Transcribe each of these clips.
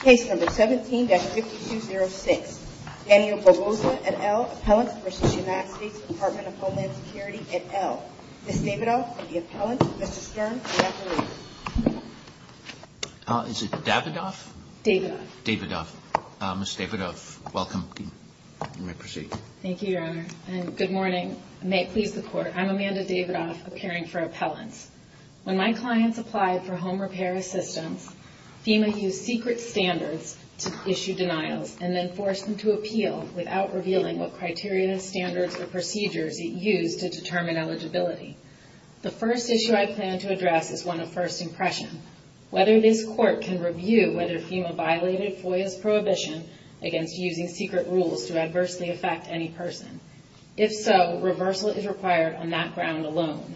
Case No. 17-6206. Daniel Barbosa et al. Appellant for City of Massachusetts Department of Homeland Security et al. Ms. Davidoff, the appellant. Mr. Stern, the appellant. Is it Davidoff? Davidoff. Davidoff. Ms. Davidoff, welcome. You may proceed. Thank you, Your Honor. And good morning. May it please the Court. I'm Amanda Davidoff, appearing for appellant. When my clients applied for home repair assistance, FEMA used secret standards to issue denials and then forced them to appeal without revealing what criteria, standards, or procedures it used to determine eligibility. The first issue I plan to address is one of first impressions, whether this Court can review whether FEMA violated FOIA's prohibition against using secret rules to adversely affect any person. If so, reversal is required on that ground alone.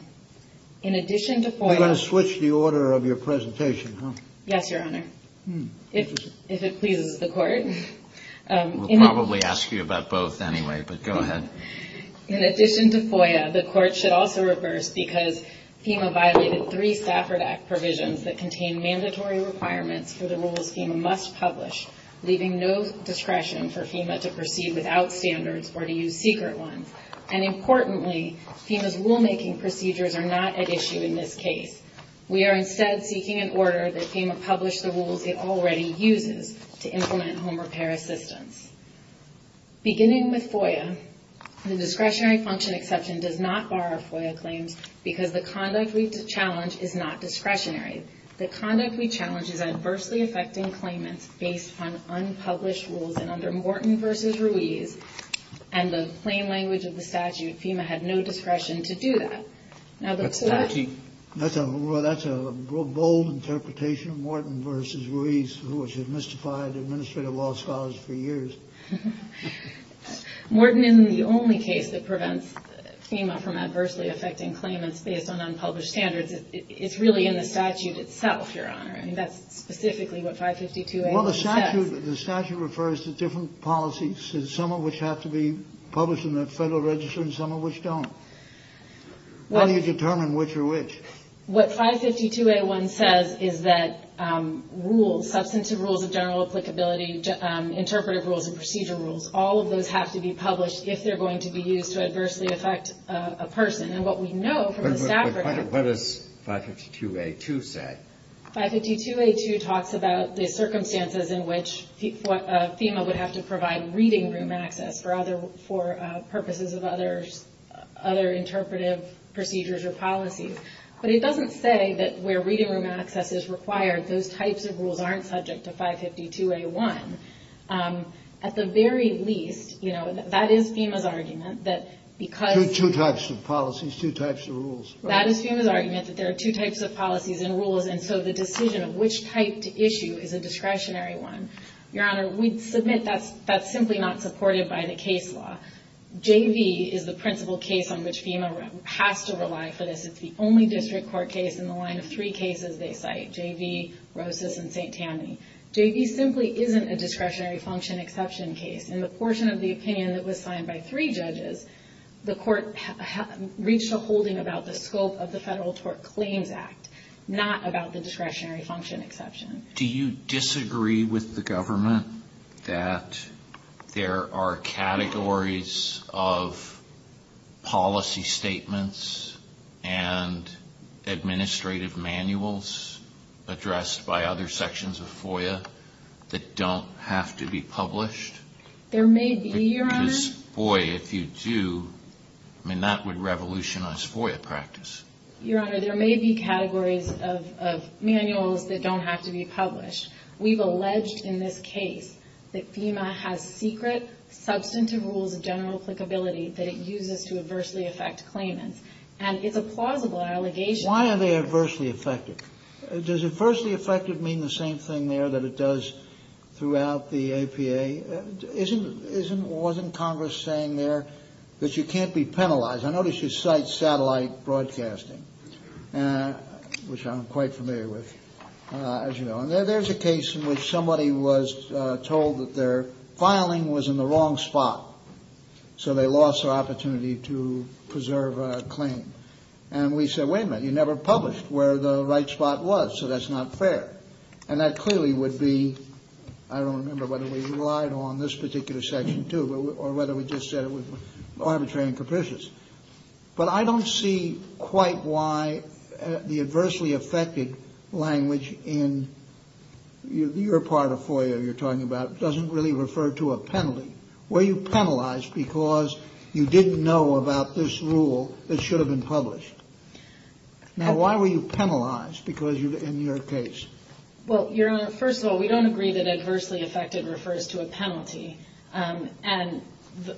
In addition to FOIA... You're going to switch the order of your presentation, huh? Yes, Your Honor. If it pleases the Court. We'll probably ask you about both anyway, but go ahead. In addition to FOIA, the Court should also reverse because FEMA violated three Stafford Act provisions that contain mandatory requirements for the rules FEMA must publish, leaving no discretion for FEMA to proceed without standards or to use secret ones. And importantly, FEMA's rulemaking procedures are not at issue in this case. We are instead seeking an order that FEMA publish the rules it already uses to implement home repair assistance. Beginning with FOIA, the discretionary function exception does not bar FOIA claims because the conduct we challenge is not discretionary. The conduct we challenge is adversely affecting claimants based on unpublished rules, and under Morton v. Ruiz, and the plain language of the statute, FEMA had no discretion to do that. Well, that's a bold interpretation, Morton v. Ruiz, which has mystified administrative law scholars for years. Morton isn't the only case that prevents FEMA from adversely affecting claimants based on unpublished standards. It's really in the statute itself, Your Honor, and that's specifically what 552A says. Well, the statute refers to different policies, some of which have to be published in the Federal Register and some of which don't. How do you determine which are which? What 552A1 says is that rules, substantive rules of general applicability, interpretive rules and procedure rules, all of those have to be published if they're going to be used to adversely affect a person. And what we know from the statute- But what does 552A2 say? 552A2 talks about the circumstances in which FEMA would have to provide reading room access for purposes of other interpretive procedures or policies. But it doesn't say that where reading room access is required, those types of rules aren't subject to 552A1. At the very least, you know, that is FEMA's argument that because- Two types of policies, two types of rules. That is FEMA's argument that there are two types of policies and rules, and so the decision of which type to issue is a discretionary one. Your Honor, we submit that's simply not supported by the case law. JV is the principal case on which FEMA has to rely for this. It's the only district court case in the line of three cases they cite, JV, Rosas, and St. Tammany. JV simply isn't a discretionary function exception case. In the portion of the opinion that was signed by three judges, the court reached a holding about the scope of the Federal Tort Claims Act, not about the discretionary function exception. Do you disagree with the government that there are categories of policy statements and administrative manuals addressed by other sections of FOIA that don't have to be published? There may be, Your Honor. Because, boy, if you do, I mean, that would revolutionize FOIA practice. Your Honor, there may be categories of manuals that don't have to be published. We've alleged in this case that FEMA has secret substantive rules of general applicability that it uses to adversely affect claimants. And it's a plausible allegation. Why are they adversely affected? Does adversely affected mean the same thing there that it does throughout the APA? Wasn't Congress saying there that you can't be penalized? I noticed you cite satellite broadcasting, which I'm quite familiar with, as you know. And there's a case in which somebody was told that their filing was in the wrong spot, so they lost the opportunity to preserve a claim. And we said, wait a minute, you never published where the right spot was, so that's not fair. And that clearly would be, I don't remember whether we relied on this particular section, too, or whether we just said it was arbitrary and capricious. But I don't see quite why the adversely affected language in your part of FOIA you're talking about doesn't really refer to a penalty. Were you penalized because you didn't know about this rule that should have been published? Now, why were you penalized in your case? Well, first of all, we don't agree that adversely affected refers to a penalty. And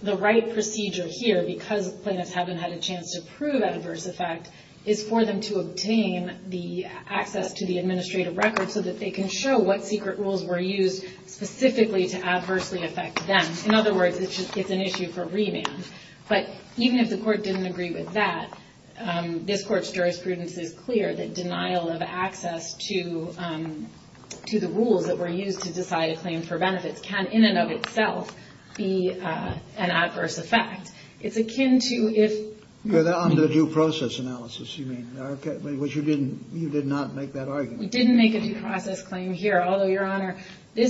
the right procedure here, because claimants haven't had a chance to prove adverse effect, is for them to obtain the access to the administrative record so that they can show what secret rules were used specifically to adversely affect them. In other words, it's just an issue for revamp. But even if the court didn't agree with that, this court's jurisprudence is clear that denial of access to the rules that were used to decide a claim for benefit can, in and of itself, be an adverse effect. It's akin to if- On the due process analysis, you mean, which you did not make that argument. We didn't make a due process claim here. Although, Your Honor, the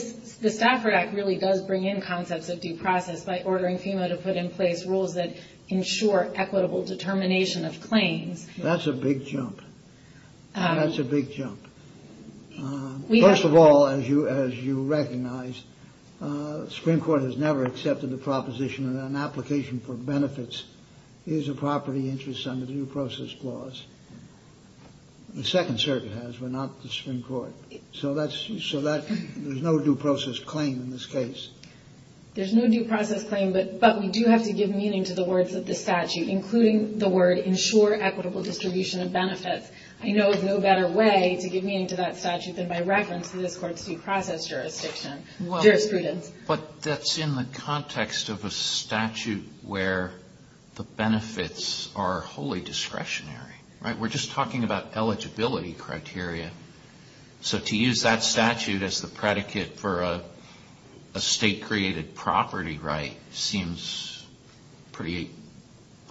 Stafford Act really does bring in concepts of due process by ordering FEMA to put in place rules that ensure equitable determination of claims. That's a big jump. That's a big jump. First of all, as you recognize, Supreme Court has never accepted the proposition that an application for benefits is a property interest under the Due Process Clause. The Second Circuit has, but not the Supreme Court. So, there's no due process claim in this case. There's no due process claim, but we do have to give meaning to the words of the statute, including the word, ensure equitable distribution of benefits. I know of no better way to give meaning to that statute than by reference to the court's due process jurisprudence. But that's in the context of a statute where the benefits are wholly discretionary. We're just talking about eligibility criteria. So, to use that statute as the predicate for a state-created property right seems pretty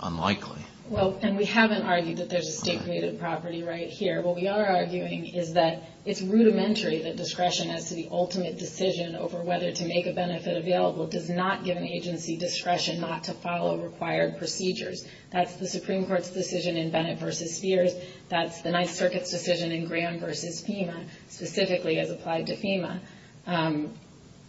unlikely. Well, and we haven't argued that there's a state-created property right here. What we are arguing is that it's rudimentary that discretion as to the ultimate decision over whether to make a benefit available does not give an agency discretion not to follow required procedures. That's the Supreme Court's decision in Bennett v. Sears. That's the Ninth Circuit's decision in Graham v. FEMA, specifically as applied to FEMA.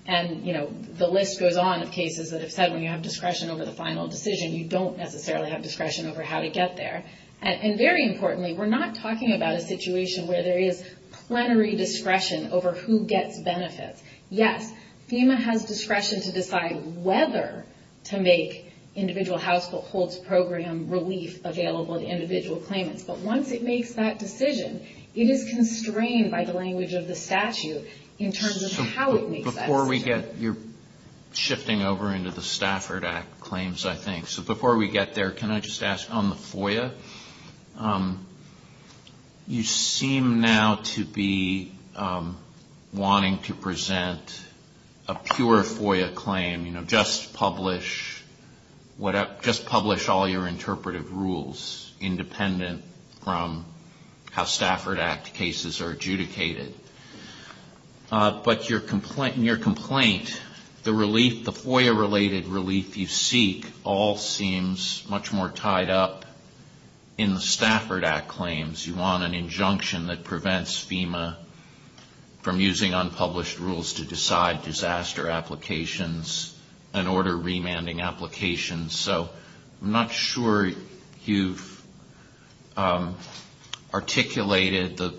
And, you know, the list goes on of cases that have said when you have discretion over the final decision, you don't necessarily have discretion over how to get there. And very importantly, we're not talking about a situation where there is plenary discretion over who gets benefits. Yes, FEMA has discretion to decide whether to make Individual Households Program relief available to individual claimants. But once it makes that decision, it is constrained by the language of the statute in terms of how it makes that decision. You're shifting over into the Stafford Act claims, I think. So before we get there, can I just ask on the FOIA, you seem now to be wanting to present a pure FOIA claim, you know, just publish all your interpretive rules independent from how Stafford Act cases are adjudicated. But in your complaint, the FOIA-related relief you seek all seems much more tied up in the Stafford Act claims. You want an injunction that prevents FEMA from using unpublished rules to decide disaster applications and order remanding applications. So I'm not sure you've articulated the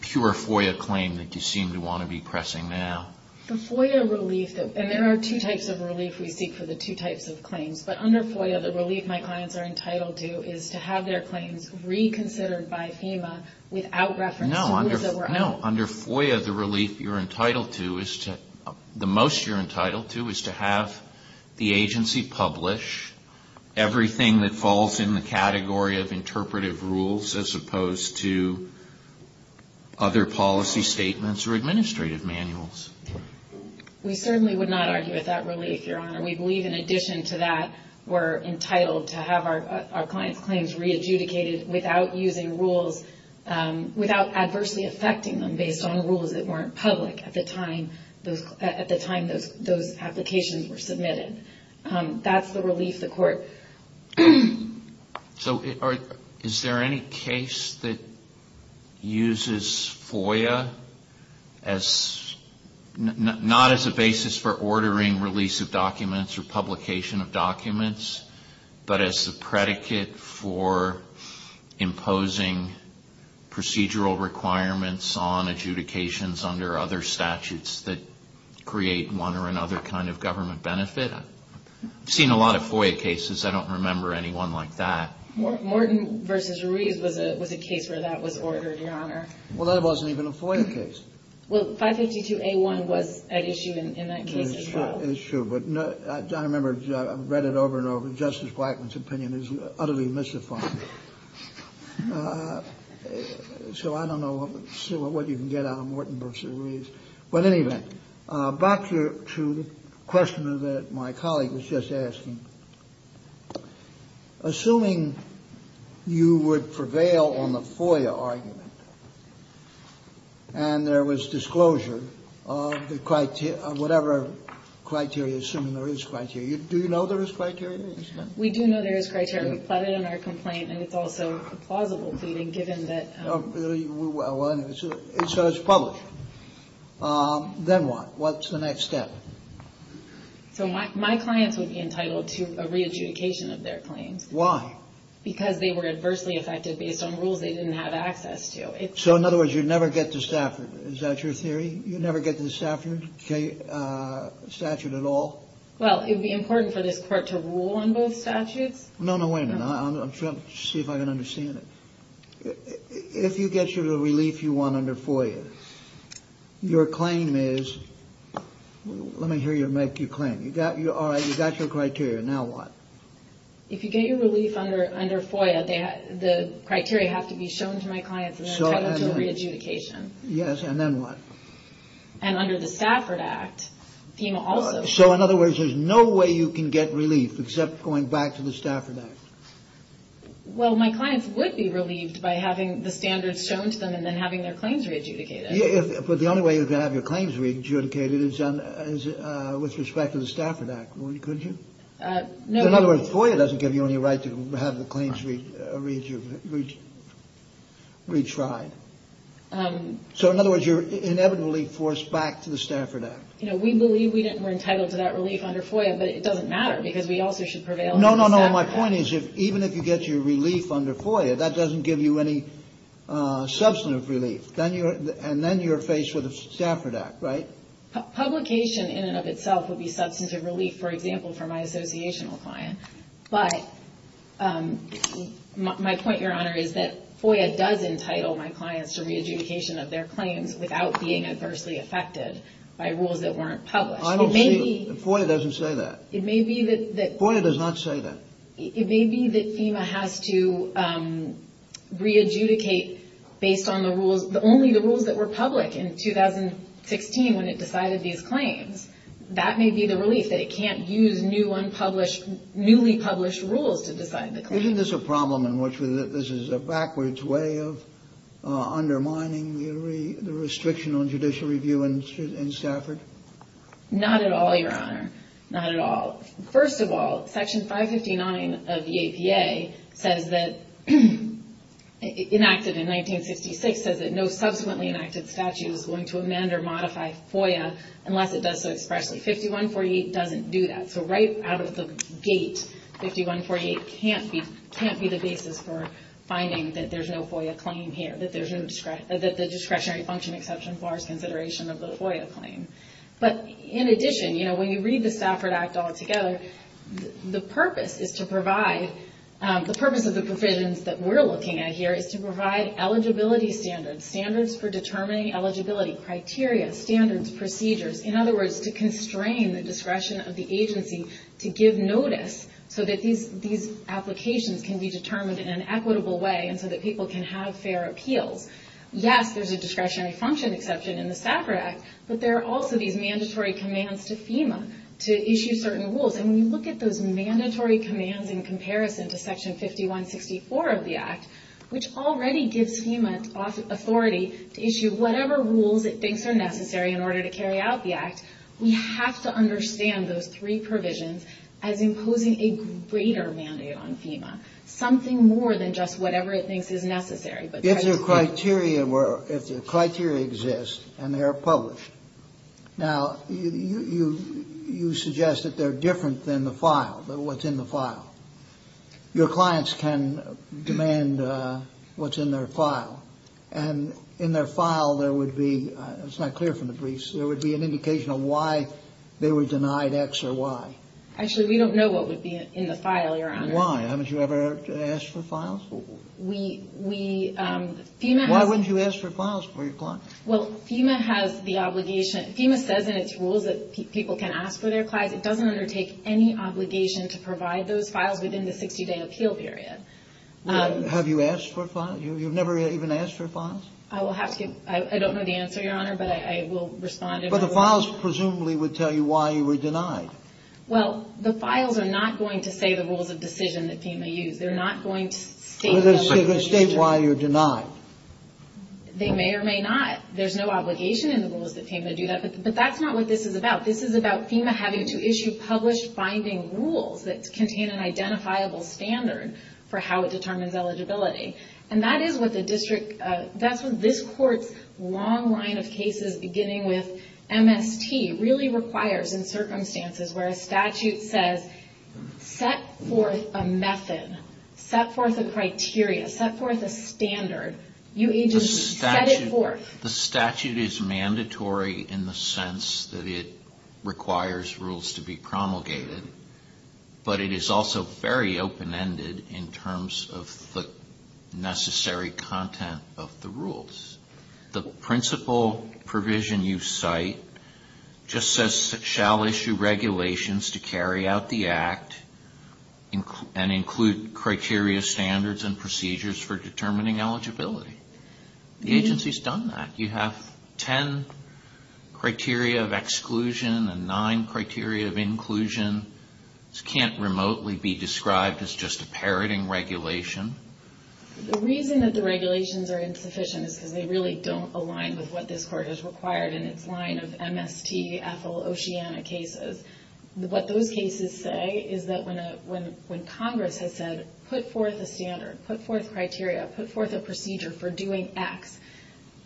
pure FOIA claim that you seem to want to be pressing now. The FOIA relief, and there are two types of relief we seek for the two types of claims. But under FOIA, the relief my clients are entitled to is to have their claims reconsidered by FEMA without reference. No, under FOIA, the relief you're entitled to is to, the most you're entitled to, is to have the agency publish everything that falls in the category of interpretive rules as opposed to other policy statements or administrative manuals. We certainly would not argue with that relief, Your Honor. We believe in addition to that, we're entitled to have our clients' claims re-adjudicated without using rules, without adversely affecting them based on rules that weren't public at the time those applications were submitted. That's the relief the court seeks. So is there any case that uses FOIA not as a basis for ordering release of documents or publication of documents, but as a predicate for imposing procedural requirements on adjudications under other statutes that create one or another kind of government benefit? I've seen a lot of FOIA cases. I don't remember anyone like that. Morton v. Reed was a case where that was ordered, Your Honor. Well, that wasn't even a FOIA case. Well, 582A1 was an issue in that case as well. It was an issue, but I remember I read it over and over. Justice Blackman's opinion is utterly mystifying. So I don't know what you can get out of Morton v. Reed. But anyway, back to the question that my colleague was just asking. Assuming you would prevail on the FOIA argument and there was disclosure of whatever criteria, assuming there is criteria. Do you know there is criteria? We do know there is criteria, but it's in our complaint, and it's also plausible. So it's public. Then what? What's the next step? So my client would be entitled to a re-adjudication of their claim. Why? Because they were adversely affected based on rules they didn't have access to. So in other words, you'd never get to Stafford. Is that your theory? You'd never get to Stafford at all? Well, it would be important for the court to rule on both statutes. No, no, wait a minute. I'm trying to see if I can understand it. If you get your relief you want under FOIA, your claim is... let me hear you make your claim. You've got your criteria. Now what? If you get your relief under FOIA, the criteria have to be shown to my clients and then entitled to a re-adjudication. Yes, and then what? And under the Stafford Act, FEMA also... So in other words, there's no way you can get relief except going back to the Stafford Act. Well, my clients would be relieved by having the standards shown to them and then having their claims re-adjudicated. But the only way you can have your claims re-adjudicated is with respect to the Stafford Act. Could you? In other words, FOIA doesn't give you any right to have the claims re-tried. So in other words, you're inevitably forced back to the Stafford Act. We believe we're entitled to that relief under FOIA, but it doesn't matter because we also should prevail... No, no, no. My point is even if you get your relief under FOIA, that doesn't give you any substantive relief. And then you're faced with a Stafford Act, right? Publication in and of itself would be substantive relief, for example, for my associational client. But my point, Your Honor, is that FOIA does entitle my clients to re-adjudication of their claim without being adversely affected by rules that weren't published. FOIA doesn't say that. FOIA does not say that. It may be that FEMA has to re-adjudicate only the rules that were public in 2016 when it decided these claims. That may be the relief, that it can't use newly published rules to decide the claims. Isn't this a problem in which this is a backwards way of undermining the restriction on judicial review in Stafford? Not at all, Your Honor. Not at all. First of all, Section 559 of the ACA says that, enacted in 1956, says that no subsequently enacted statute is going to amend or modify FOIA unless it does so expressly. 5148 doesn't do that. So right out of the gate, 5148 can't be the basis for finding that there's no FOIA claim here, that there's no discretionary function exception for consideration of the FOIA claim. But in addition, you know, when you read the Stafford Act all together, the purpose is to provide, the purpose of the provisions that we're looking at here is to provide eligibility standards, standards for determining eligibility, criteria, standards, procedures. In other words, to constrain the discretion of the agency to give notice so that these applications can be determined in an equitable way and so that people can have fair appeals. Yes, there's a discretionary function exception in the Stafford Act, but there are also these mandatory commands to FEMA to issue certain rules. And when you look at those mandatory commands in comparison to Section 5164 of the Act, which already gives FEMA authority to issue whatever rules it thinks are necessary in order to carry out the Act, we have to understand those three provisions as imposing a greater mandate on FEMA, something more than just whatever it thinks is necessary. If the criteria exist and they're published. Now, you suggest that they're different than the file, what's in the file. Your clients can demand what's in their file. And in their file there would be, it's not clear from the briefs, there would be an indication of why they were denied X or Y. Actually, we don't know what would be in the file, Your Honor. Why? Haven't you ever asked for files before? We, we, FEMA has... Why wouldn't you ask for files before your client? Well, FEMA has the obligation, FEMA says in its rules that people can ask for their file. But it doesn't undertake any obligation to provide those files within the 60-day appeal period. Have you asked for files? You've never even asked for files? I will have to, I don't know the answer, Your Honor, but I will respond to... But the files presumably would tell you why you were denied. Well, the files are not going to say the rules of decision that FEMA used. They're not going to state... They're going to state why you're denied. They may or may not. There's no obligation in the rules that FEMA do that, but that's not what this is about. This is about FEMA having to issue published binding rules that contain an identifiable standard for how it determines eligibility. And that is what the district... That's what this court's long line of cases, beginning with MST, really requires in circumstances where a statute says, set forth a method, set forth a criteria, set forth a standard. You agency, set it forth. The statute is mandatory in the sense that it requires rules to be promulgated, but it is also very open-ended in terms of the necessary content of the rules. The principal provision you cite just says, shall issue regulations to carry out the act and include criteria, standards, and procedures for determining eligibility. The agency's done that. You have ten criteria of exclusion and nine criteria of inclusion. This can't remotely be described as just a parroting regulation. The reason that the regulations are insufficient is because they really don't align with what this court has required in its line of MST, Ethel, OCEANA cases. What those cases say is that when Congress has said, put forth a standard, put forth criteria, put forth a procedure for doing X,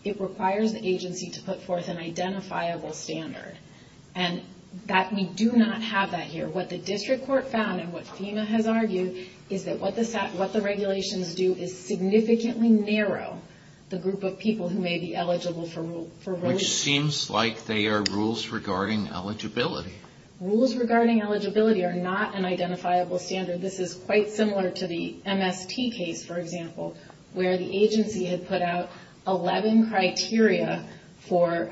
it requires the agency to put forth an identifiable standard. And we do not have that here. What the district court found and what FEMA has argued is that what the regulations do is significantly narrow the group of people who may be eligible for voting. Which seems like they are rules regarding eligibility. Rules regarding eligibility are not an identifiable standard. This is quite similar to the MST case, for example, where the agency had put out 11 criteria for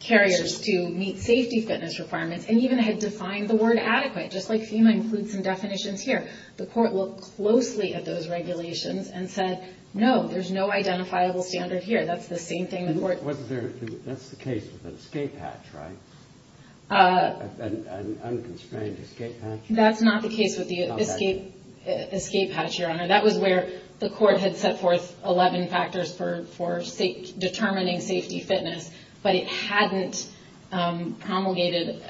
carriers to meet safety fitness requirements and even had defined the word adequate, just like FEMA includes some definitions here. The court looked closely at those regulations and said, no, there's no identifiable standard here. That's the same thing the court- That's the case with an escape hatch, right? An unconstrained escape hatch? That's not the case with the escape hatch, Your Honor. That was where the court had set forth 11 factors for determining safety fitness, but it hadn't promulgated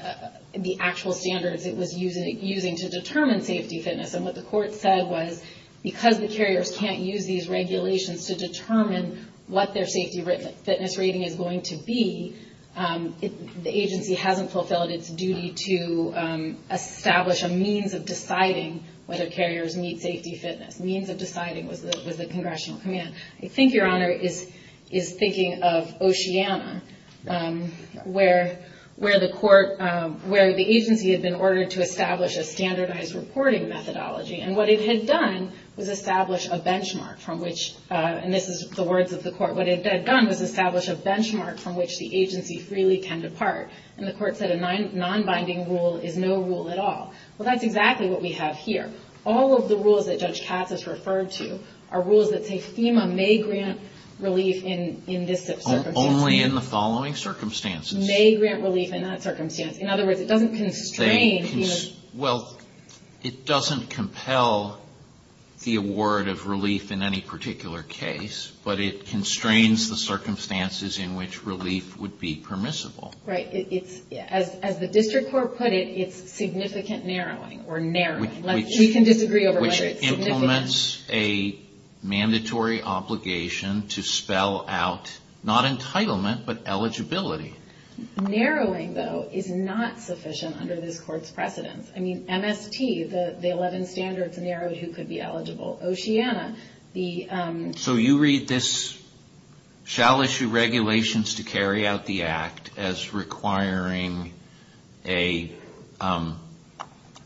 the actual standards it was using to determine safety fitness. And what the court said was, because the carriers can't use these regulations to determine what their safety fitness rating is going to be, the agency hasn't fulfilled its duty to establish a means of deciding whether carriers meet safety fitness, means of deciding with the congressional command. I think, Your Honor, is thinking of Oceana, where the agency has been ordered to establish a standardized reporting methodology. And what it had done was establish a benchmark from which- and this is the words of the court- what it had done was establish a benchmark from which the agency freely can depart. And the court said a non-binding rule is no rule at all. Well, that's exactly what we have here. All of the rules that Judge Katz has referred to are rules that say FEMA may grant relief in this circumstance. Only in the following circumstances. May grant relief in that circumstance. In other words, it doesn't constrain FEMA. Well, it doesn't compel the award of relief in any particular case, but it constrains the circumstances in which relief would be permissible. Right. As the district court put it, it's significant narrowing, or narrowing. We can disagree over whether it's significant. Which implements a mandatory obligation to spell out, not entitlement, but eligibility. Narrowing, though, is not sufficient under this court's precedence. I mean, MST, the 11 standards, narrow who could be eligible. Oceana, the- So you read this shall issue regulations to carry out the act as requiring an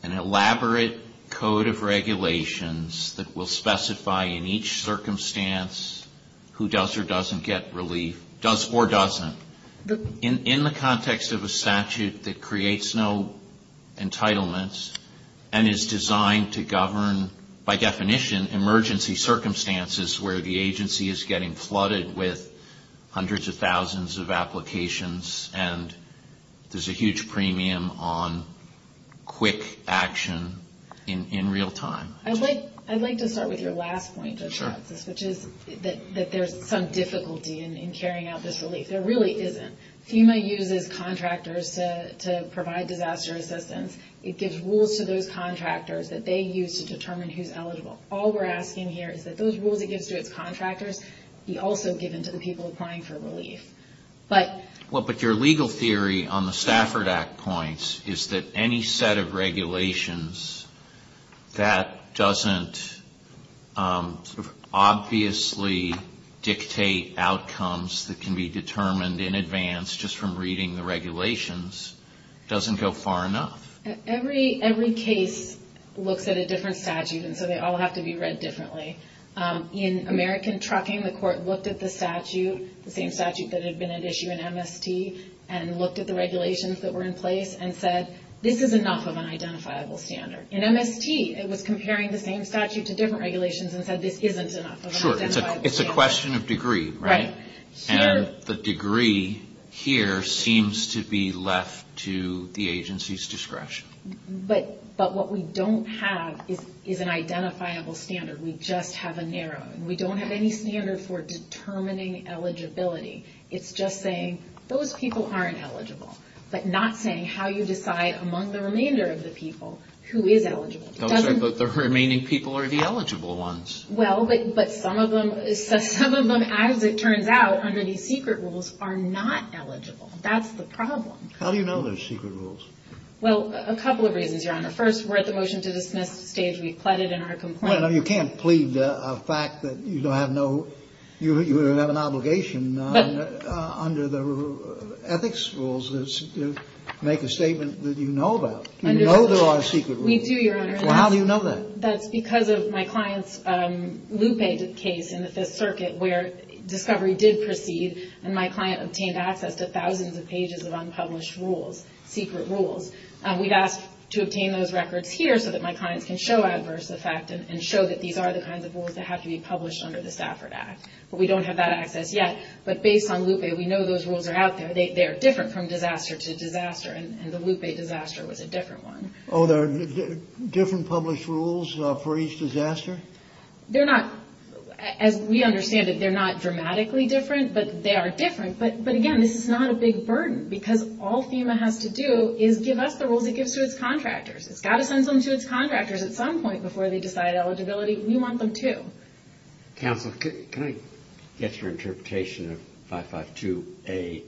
elaborate code of regulations that will specify in each circumstance who does or doesn't get relief. Does or doesn't. In the context of a statute that creates no entitlements and is designed to govern, by definition, emergency circumstances where the agency is getting flooded with hundreds of thousands of applications and there's a huge premium on quick action in real time. I'd like to start with your last point, which is that there's some difficulty in carrying out this relief. There really isn't. FEMA uses contractors to provide disaster assistance. It gives rules to those contractors that they use to determine who's eligible. All we're asking here is that those rules it gives to contractors be also given to the people applying for relief. Well, but your legal theory on the Stafford Act points is that any set of regulations that doesn't obviously dictate outcomes that can be determined in advance just from reading the regulations doesn't go far enough. Every case looks at a different statute, and so they all have to be read differently. In American Trucking, the court looked at the statute, the same statute that had been at issue in MST, and looked at the regulations that were in place and said, this is enough of an identifiable standard. In MST, it was comparing the same statute to different regulations and said, this isn't enough of an identifiable standard. Sure. It's a question of degree, right? Right. And the degree here seems to be left to the agency's discretion. But what we don't have is an identifiable standard. We just have a narrow one. We don't have any standard for determining eligibility. It's just saying, those people aren't eligible. But not saying how you decide among the remainder of the people who is eligible. The remaining people are the eligible ones. Well, but some of them, as it turns out, under these secret rules, are not eligible. That's the problem. How do you know those secret rules? Well, a couple of reasons, Your Honor. First, we're at the motion to dismiss stage. We've pledged in our complaint. Well, you can't plead a fact that you don't have no, you have an obligation under the ethics rules to make a statement that you know about. You know there are secret rules. We do, Your Honor. Well, how do you know that? That's because of my client's loop-ed case in the Fifth Circuit, where discovery did proceed, and my client obtained access to thousands of pages of unpublished rules, secret rules. We've asked to obtain those records here so that my client can show adverse effects and show that these are the kinds of rules that have to be published under the Stafford Act. We don't have that access yet, but based on loop-ed, we know those rules are out there. They're different from disaster to disaster, and the loop-ed disaster was a different one. Oh, there are different published rules for each disaster? They're not, as we understand it, they're not dramatically different, but they are different. But, again, this is not a big burden, because all FEMA has to do is give up the rules it gives to its contractors. It's got to send them to its contractors at some point before they decide eligibility. We want them to. Counselor, can I get your interpretation of 552A2?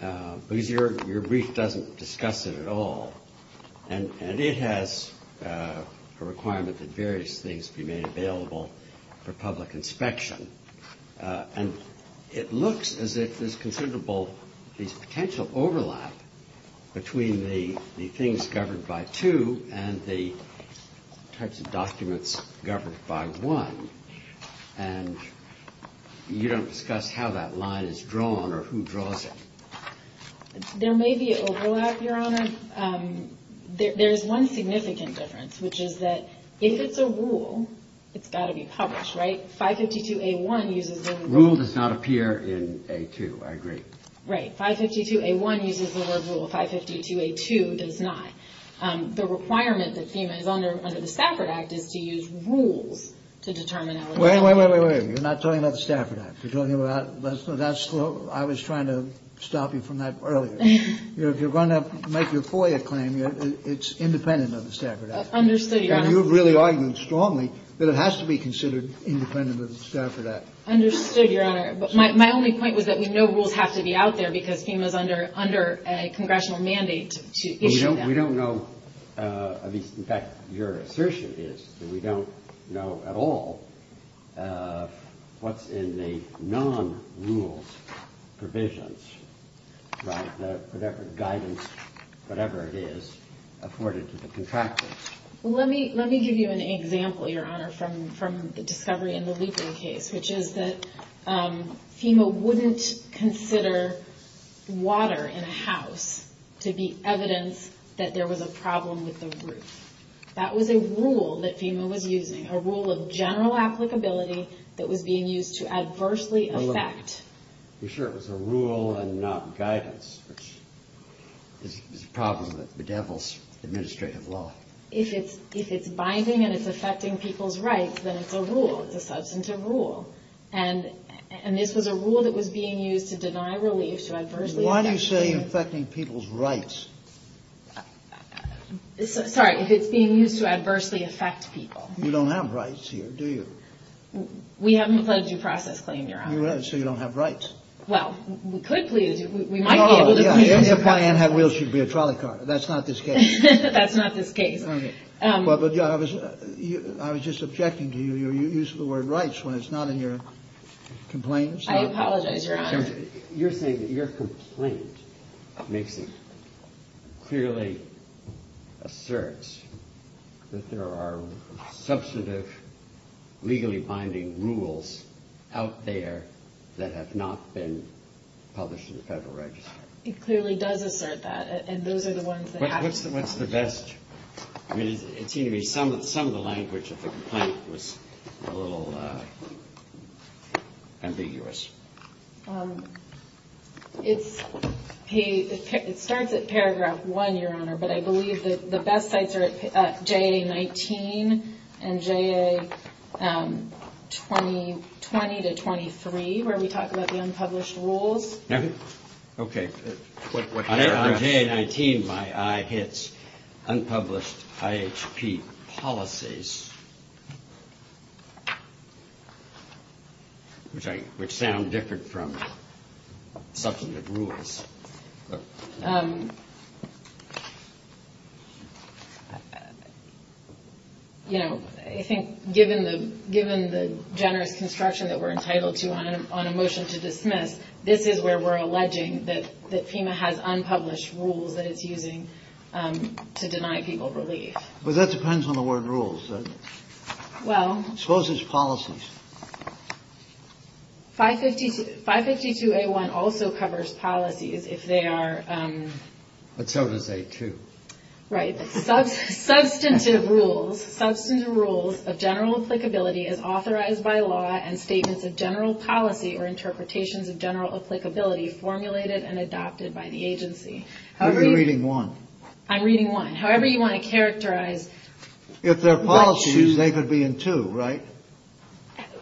Because your brief doesn't discuss it at all, and it has a requirement that various things be made available for public inspection, and it looks as if there's considerable potential overlap between the things governed by 2 and the types of documents governed by 1, and you don't discuss how that line is drawn or who draws it. There may be overlap, Your Honor. There's one significant difference, which is that if it's a rule, it's got to be published, right? 552A1 uses the word rule. Rule does not appear in A2. I agree. Right. 552A1 uses the word rule. 552A2 does not. The requirement that FEMA is under under the Stafford Act is to use rules to determine eligibility. Wait, wait, wait, wait, wait. You're not talking about the Stafford Act. That's what I was trying to stop you from earlier. If you're going to make your FOIA claim, it's independent of the Stafford Act. Understood, Your Honor. And you've really argued strongly that it has to be considered independent of the Stafford Act. Understood, Your Honor. But my only point was that we know rules have to be out there because FEMA is under a congressional mandate to issue them. We don't know. In fact, your assertion is that we don't know at all what's in the non-rule provisions, whatever guidance, whatever it is, afforded to the contractors. Well, let me give you an example, Your Honor, from the discovery in the Liepman case, which is that FEMA wouldn't consider water in a house to be evidence that there was a problem with the roof. That was a rule that FEMA was using, a rule of general applicability that was being used to adversely affect You're sure it was a rule and not guidance? It's a problem with the devil's administrative law. If it's binding and it's affecting people's rights, then it's a rule. It's a substance of rule. And this was a rule that was being used to deny relief to adversely affect people. Why do you say affecting people's rights? Sorry, if it's being used to adversely affect people. You don't have rights here, do you? We haven't pledged a process claim, Your Honor. So you don't have rights. Well, we could, please. Oh, yeah, if Diane had wheels, she'd be a trolley car. That's not the case. That's not the case. I was just objecting to your use of the word rights when it's not in your complaints. I apologize, Your Honor. You're saying that your complaint clearly asserts that there are substantive legally binding rules out there that have not been published in the Federal Register. It clearly does assert that, and those are the ones that have to be published. What's the best? Some of the language of the complaint was a little ambiguous. It starts at paragraph one, Your Honor, but I believe the best sites are JA-19 and JA-20 to 23, where we talk about the unpublished rules. Okay. On JA-19, my eye hits unpublished IHP policies, which sound different from substantive rules. Okay. You know, I think given the generous construction that we're entitled to on a motion to dismiss, this is where we're alleging that FEMA has unpublished rules that it's using to deny people relief. Well, that depends on the word rules, doesn't it? Well. Suppose it's policies. 552A1 also covers policies if they are- It covers A2. Right. Substantive rules of general applicability is authorized by law and statements of general policy or interpretations of general applicability formulated and adopted by the agency. I'm reading one. I'm reading one. However you want to characterize- If they're policies, they could be in two, right?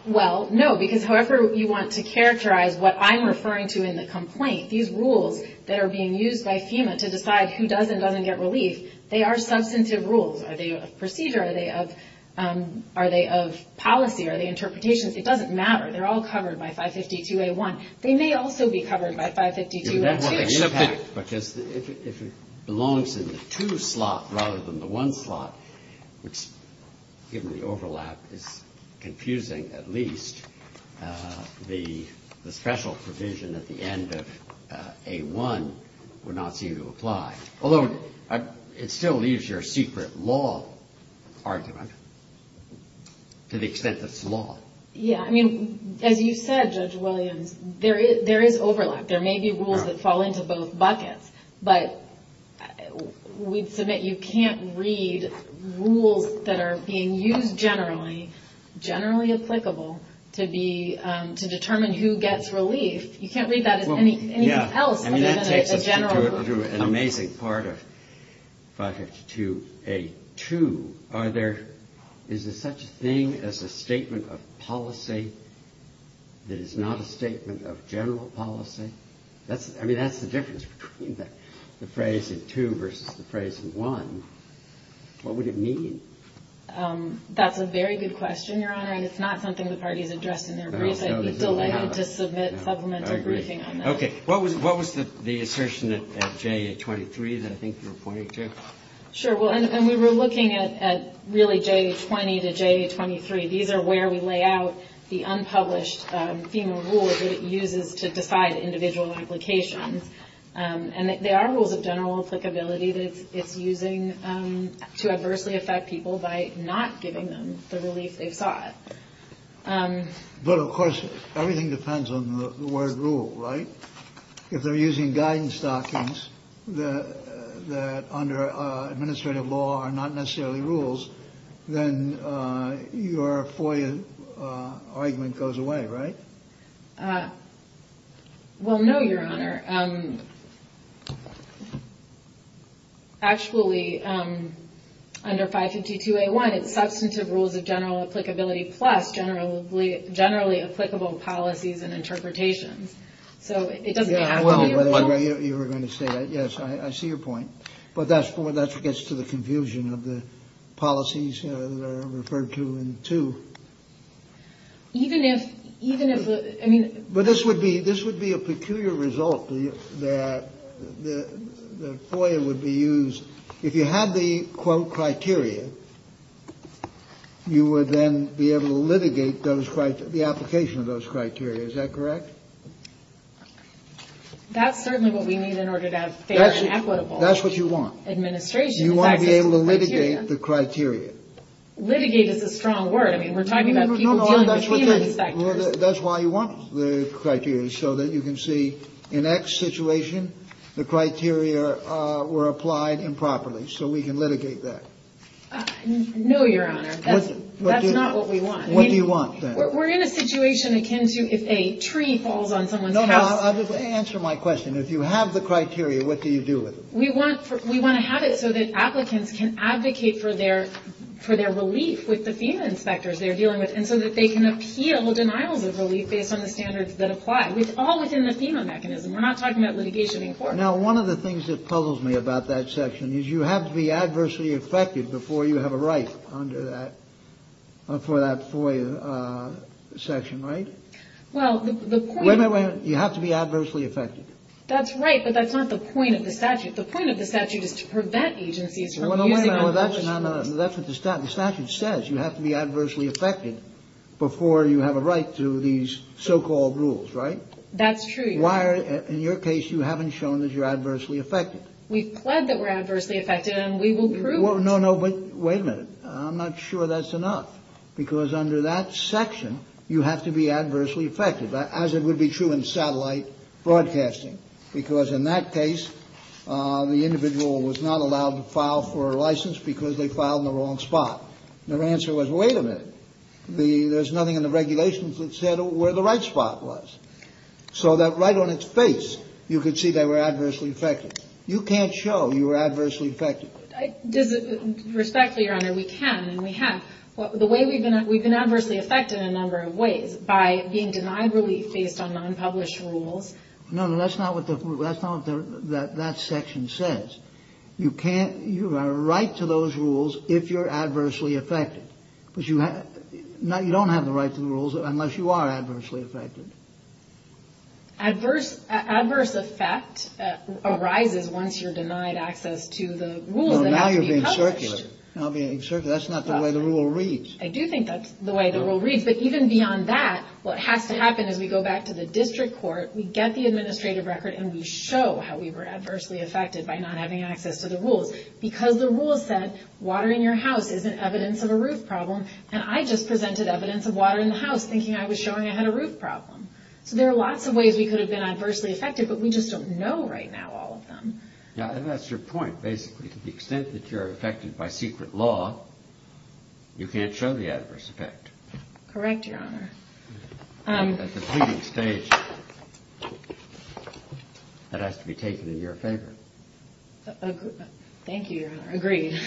Well, no, because however you want to characterize what I'm referring to in the complaint, these rules that are being used by FEMA to decide who does and doesn't get relief, they are substantive rules. Are they of procedure? Are they of policy? Are they interpretations? It doesn't matter. They're all covered by 552A1. They may also be covered by 552A1. Because if it belongs in the two slot rather than the one slot, which, given the overlap, is confusing at least, the special provision at the end of A1 would not seem to apply. Although it still leaves your secret law argument to the extent that it's law. Yeah. I mean, as you said, Judge Williams, there is overlap. There may be rules that fall into both buckets. But we'd submit you can't read rules that are being used generally, generally applicable, to determine who gets relief. You can't read that as anything else other than a general rule. It takes us through an amazing part of 552A2. Is there such a thing as a statement of policy that is not a statement of general policy? I mean, that's the difference between the phrase in 2 versus the phrase in 1. What would it mean? That's a very good question, Your Honor. And it's not something the party has addressed in their brief. I'd be delighted to submit supplements or anything. I agree. Okay. What was the assertion at J23 that I think you're pointing to? Sure. Well, and we were looking at really J20 to J23. These are where we lay out the unpublished FEMA rule that it uses to decide individual implications. And there are rules of general applicability that it's using to adversely affect people by not giving them the relief they sought. But, of course, everything depends on the word rule, right? If they're using guidance documents that under administrative law are not necessarily rules, then your FOIA argument goes away, right? Well, no, Your Honor. Actually, under 552A1, it's substantive rules of general applicability plus generally applicable policies and interpretations. So it doesn't add up. Well, you were going to say that. Yes, I see your point. But that gets to the confusion of the policies referred to in 2. Even if, I mean... But this would be a peculiar result that the FOIA would be used. If you had the, quote, criteria, you would then be able to litigate the application of those criteria. Is that correct? That's certainly what we need in order to have fair and equitable administration. That's what you want. You want to be able to litigate the criteria. Litigate is a strong word. I mean, we're talking about people in the security sector. That's why you want the criteria, so that you can see, in X situation, the criteria were applied improperly, so we can litigate that. No, Your Honor, that's not what we want. What do you want, then? We're in a situation akin to if a tree falls on someone. Answer my question. If you have the criteria, what do you do with it? We want to have it so that applicants can advocate for their relief with the FEMA inspectors they're dealing with and so that they can appeal the denial of relief based on the standards that apply. It's all within the FEMA mechanism. We're not talking about litigation in court. Now, one of the things that puzzles me about that section is you have to be adversely affected before you have a right under that, for that FOIA section, right? Well, the point is... You have to be adversely affected. That's right, but that's not the point of the statute. The point of the statute is to prevent agencies from... That's what the statute says. You have to be adversely affected before you have a right through these so-called rules, right? That's true, Your Honor. Why, in your case, you haven't shown that you're adversely affected. We've pledged that we're adversely affected and we will prove it. No, no, but wait a minute. I'm not sure that's enough because under that section, you have to be adversely affected, as it would be true in satellite broadcasting, because in that case, the individual was not allowed to file for a license because they filed in the wrong spot. Their answer was, wait a minute. There's nothing in the regulations that said where the right spot was. So that right on its face, you could see they were adversely affected. You can't show you were adversely affected. Respectfully, Your Honor, we can and we have. We've been adversely affected in a number of ways by being deniably based on unpublished rules. No, no, that's not what that section says. You have a right to those rules if you're adversely affected. You don't have the right to the rules unless you are adversely affected. Adverse effect arises once you're denied access to the rules that have been published. Now you're being circular. That's not the way the rule reads. I do think that's the way the rule reads. But even beyond that, what has to happen is we go back to the district court, we get the administrative record, and we show how we were adversely affected by not having access to the rules. Because the rule says water in your house is an evidence of a roof problem, and I just presented evidence of water in the house thinking I was showing I had a roof problem. There are lots of ways we could have been adversely affected, but we just don't know right now all of them. Yeah, and that's your point, basically. To the extent that you're affected by secret law, you can't show the adverse effect. Correct, Your Honor. At the PD stage, that has to be taken in your favor. Thank you, Your Honor. Agreed.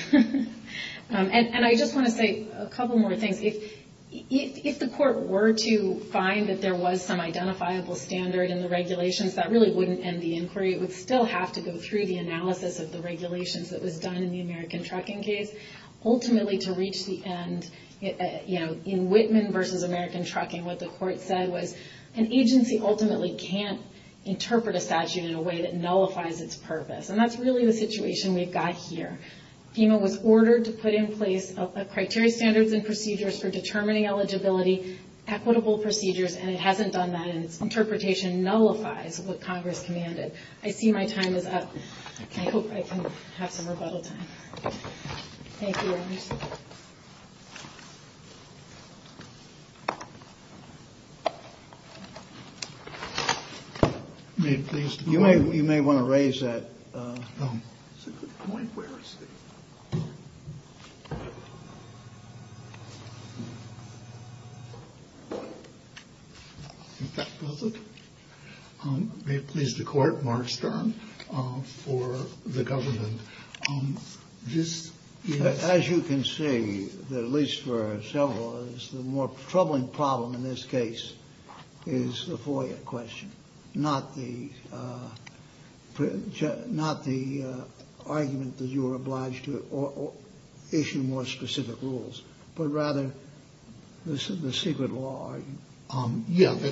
And I just want to say a couple more things. If the court were to find that there was some identifiable standard in the regulations, that really wouldn't end the inquiry. It would still have to go through the analysis of the regulations that was done in the American Trucking case. Ultimately, to reach the end, you know, in Whitman v. American Trucking, what the court said was an agency ultimately can't interpret a statute in a way that nullifies its purpose. And that's really the situation we've got here. FEMA was ordered to put in place criteria standards and procedures for determining eligibility, equitable procedures, and it hasn't done that, and interpretation nullifies what Congress commanded. I see my time is up. I hope I can have some rebuttal time. You may want to raise that. May it please the court, Mark Stern for the government. As you can see, at least for several of us, the more troubling problem in this case is the FOIA question, not the argument that you were obliged to issue more specific rules, but rather the secret law argument.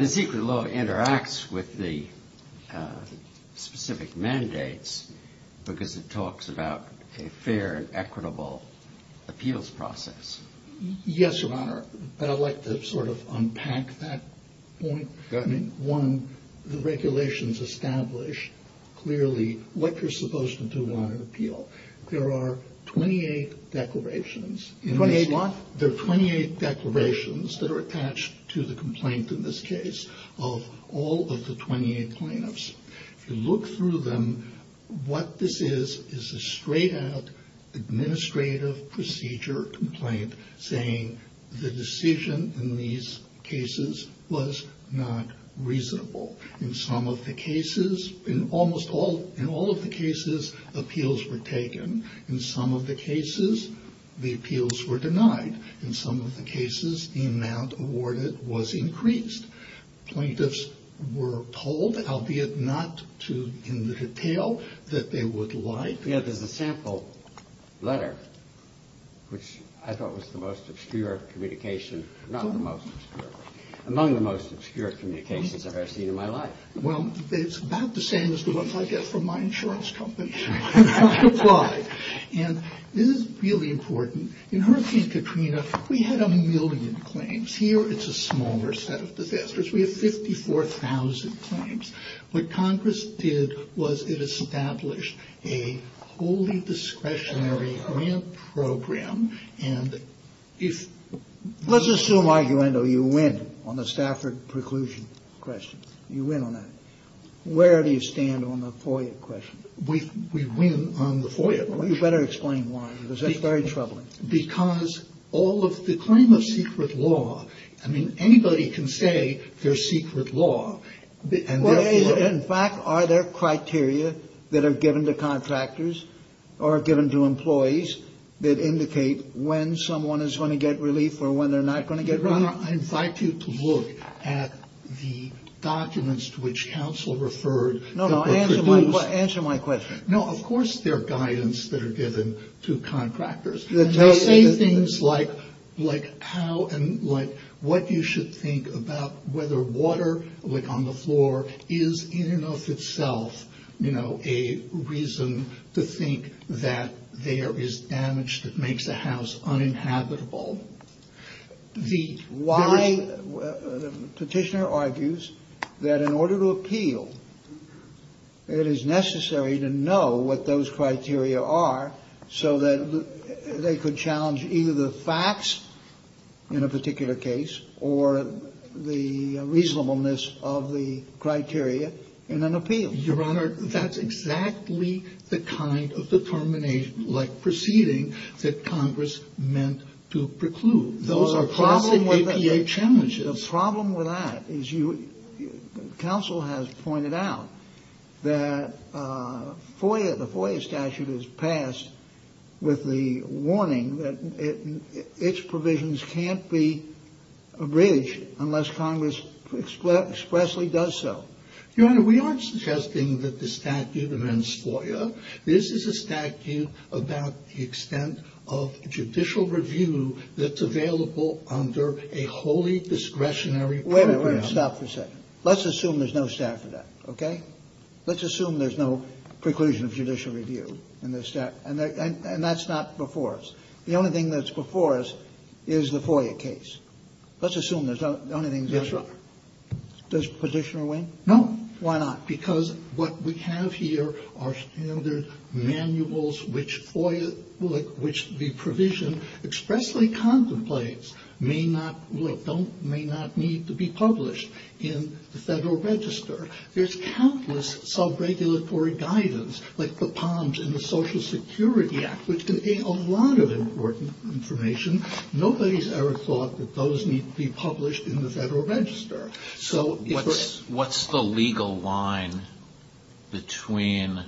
The secret law interacts with the specific mandates because it talks about a fair and equitable appeals process. Yes, Your Honor, but I'd like to sort of unpack that point. One, the regulations establish clearly what you're supposed to do on an appeal. There are 28 declarations. 28 what? There are 28 declarations that are attached to the complaint in this case of all of the 28 plaintiffs. If you look through them, what this is is a straight-out administrative procedure complaint saying the decision in these cases was not reasonable. In some of the cases, in almost all of the cases, appeals were taken. In some of the cases, the appeals were denied. In some of the cases, the amount awarded was increased. Plaintiffs were told, albeit not in the detail, that they would like... Well, it's about the same as the ones I get from my insurance company. And this is really important. In Hurricane Katrina, we had a million claims. Here, it's a smaller set of disasters. We have 54,000 claims. What Congress did was it established a wholly discretionary grant program, and if... You win on that. Where do you stand on the FOIA question? We win on the FOIA question. Well, you better explain why, because that's very troubling. Because all of... the claim is secret law. I mean, anybody can say they're secret law. In fact, are there criteria that are given to contractors or given to employees that indicate when someone is going to get relief or when they're not going to get relief? I invite you to look at the documents to which counsel referred. No, no, answer my question. No, of course there are guidance that are given to contractors. They say things like how and like what you should think about whether water, like on the floor, is in and of itself, you know, a reason to think that there is damage that makes the house uninhabitable. The petitioner argues that in order to appeal, it is necessary to know what those criteria are so that they could challenge either the facts in a particular case or the reasonableness of the criteria in an appeal. Your Honor, that's exactly the kind of determination, like proceeding, that Congress meant to preclude. Those are classic APA challenges. The problem with that is counsel has pointed out that FOIA, the FOIA statute is passed with the warning that its provisions can't be abridged unless Congress expressly does so. Your Honor, we aren't suggesting that the statute prevents FOIA. This is a statute about the extent of judicial review that's available under a wholly discretionary program. Wait a minute. Stop for a second. Let's assume there's no statute for that, okay? Let's assume there's no preclusion of judicial review in this statute. And that's not before us. The only thing that's before us is the FOIA case. Let's assume that's the only thing that's before us. Does positioner win? No. Why not? Because what we have here are standard manuals which the provision expressly contemplates may not need to be published in the Federal Register. There's countless sub-regulatory guidance, like the POMS and the Social Security Act, which contain a lot of important information. Nobody's ever thought that those need to be published in the Federal Register. So what's the legal line between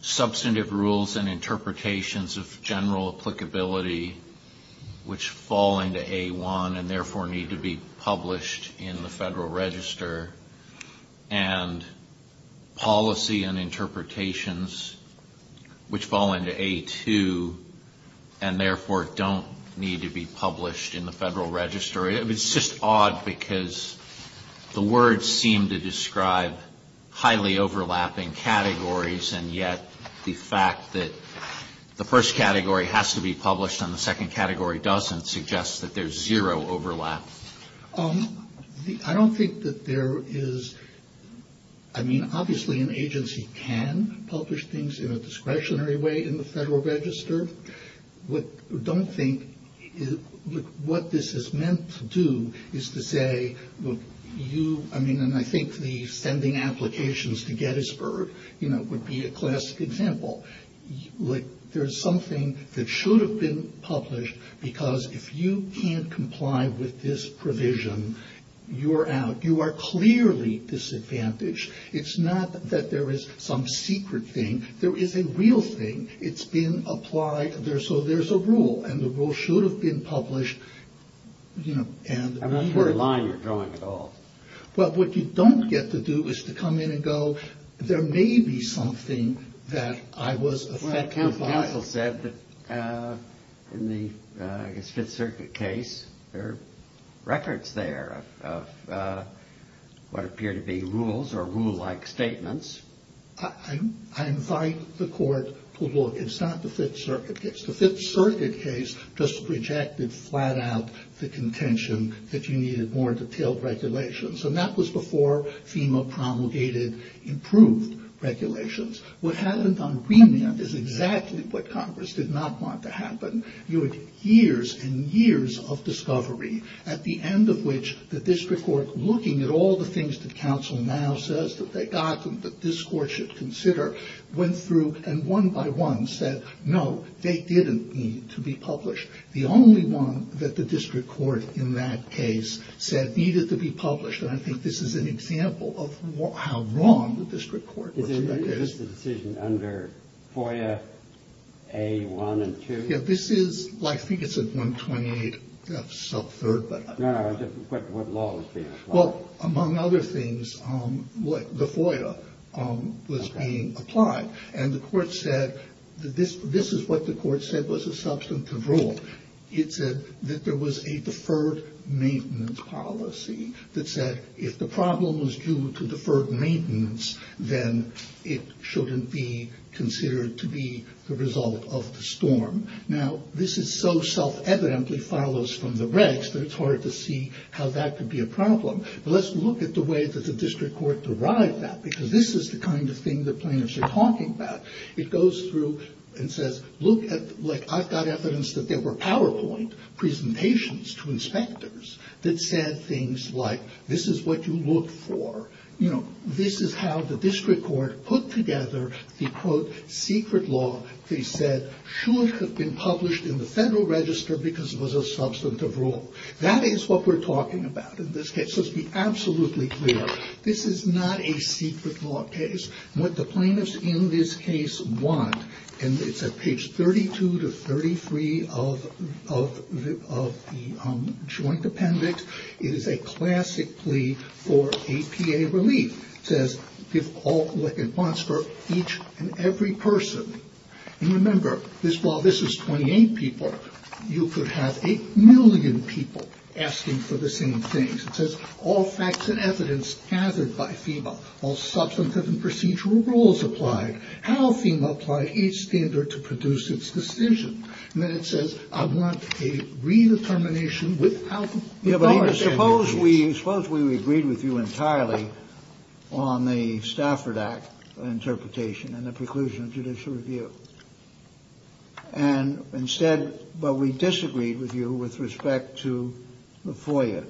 substantive rules and interpretations of general applicability, which fall into A1 and therefore need to be published in the Federal Register, and policy and interpretations which fall into A2 and therefore don't need to be published in the Federal Register? It's just odd because the words seem to describe highly overlapping categories, and yet the fact that the first category has to be published and the second category doesn't suggests that there's zero overlap. I don't think that there is, I mean, obviously an agency can publish things in a discretionary way in the Federal Register. I don't think what this is meant to do is to say, and I think the sending applications to Gettysburg would be a classic example. There's something that should have been published because if you can't comply with this provision, you're out. You are clearly disadvantaged. It's not that there is some secret thing. There is a real thing. It's been applied. So there's a rule, and the rule should have been published. I'm not sure the line you're drawing at all. Well, what you don't get to do is to come in and go, there may be something that I was affected by. Well, counsel said that in the Fifth Circuit case, there are records there of what appear to be rules or rule-like statements. I invite the court to look. It's not the Fifth Circuit case. The Fifth Circuit case just rejected flat out the contention that you needed more detailed regulations, and that was before FEMA promulgated improved regulations. What happened on Greenland is exactly what Congress did not want to happen. You had years and years of discovery, at the end of which the district court, looking at all the things that counsel now says that they got and that this court should consider, went through and one by one said, no, they didn't need to be published. The only one that the district court in that case said needed to be published, and I think this is an example of how wrong the district court was. Did they make this decision under FOIA A1 and 2? Yeah, this is, I think it's a 128 sub-third. Well, among other things, the FOIA was being applied, and the court said that this is what the court said was a substantive rule. It said that there was a deferred maintenance policy that said if the problem was due to deferred maintenance, then it shouldn't be considered to be the result of the storm. Now, this is so self-evidently follows from the regs that it's hard to see how that could be a problem, but let's look at the way that the district court derived that, because this is the kind of thing that planners are talking about. It goes through and says, look, I've got evidence that there were PowerPoint presentations to inspectors that said things like this is what you look for. This is how the district court put together the, quote, secret law. They said it shouldn't have been published in the Federal Register because it was a substantive rule. That is what we're talking about in this case. Let's be absolutely clear. This is not a secret law case. The plaintiffs in this case won, and it's at page 32 to 33 of the joint appendix. It is a classic plea for APA relief. It says, give all what it wants for each and every person. And remember, while this is 28 people, you could have a million people asking for the same things. It says, all facts and evidence gathered by FEMA, all substantive and procedural rules applied, how FEMA applied each standard to produce its decision. And then it says, I want a redetermination without endorsing. Suppose we agreed with you entirely on the Stafford Act interpretation and the preclusion of judicial review. And instead, but we disagreed with you with respect to the FOIA.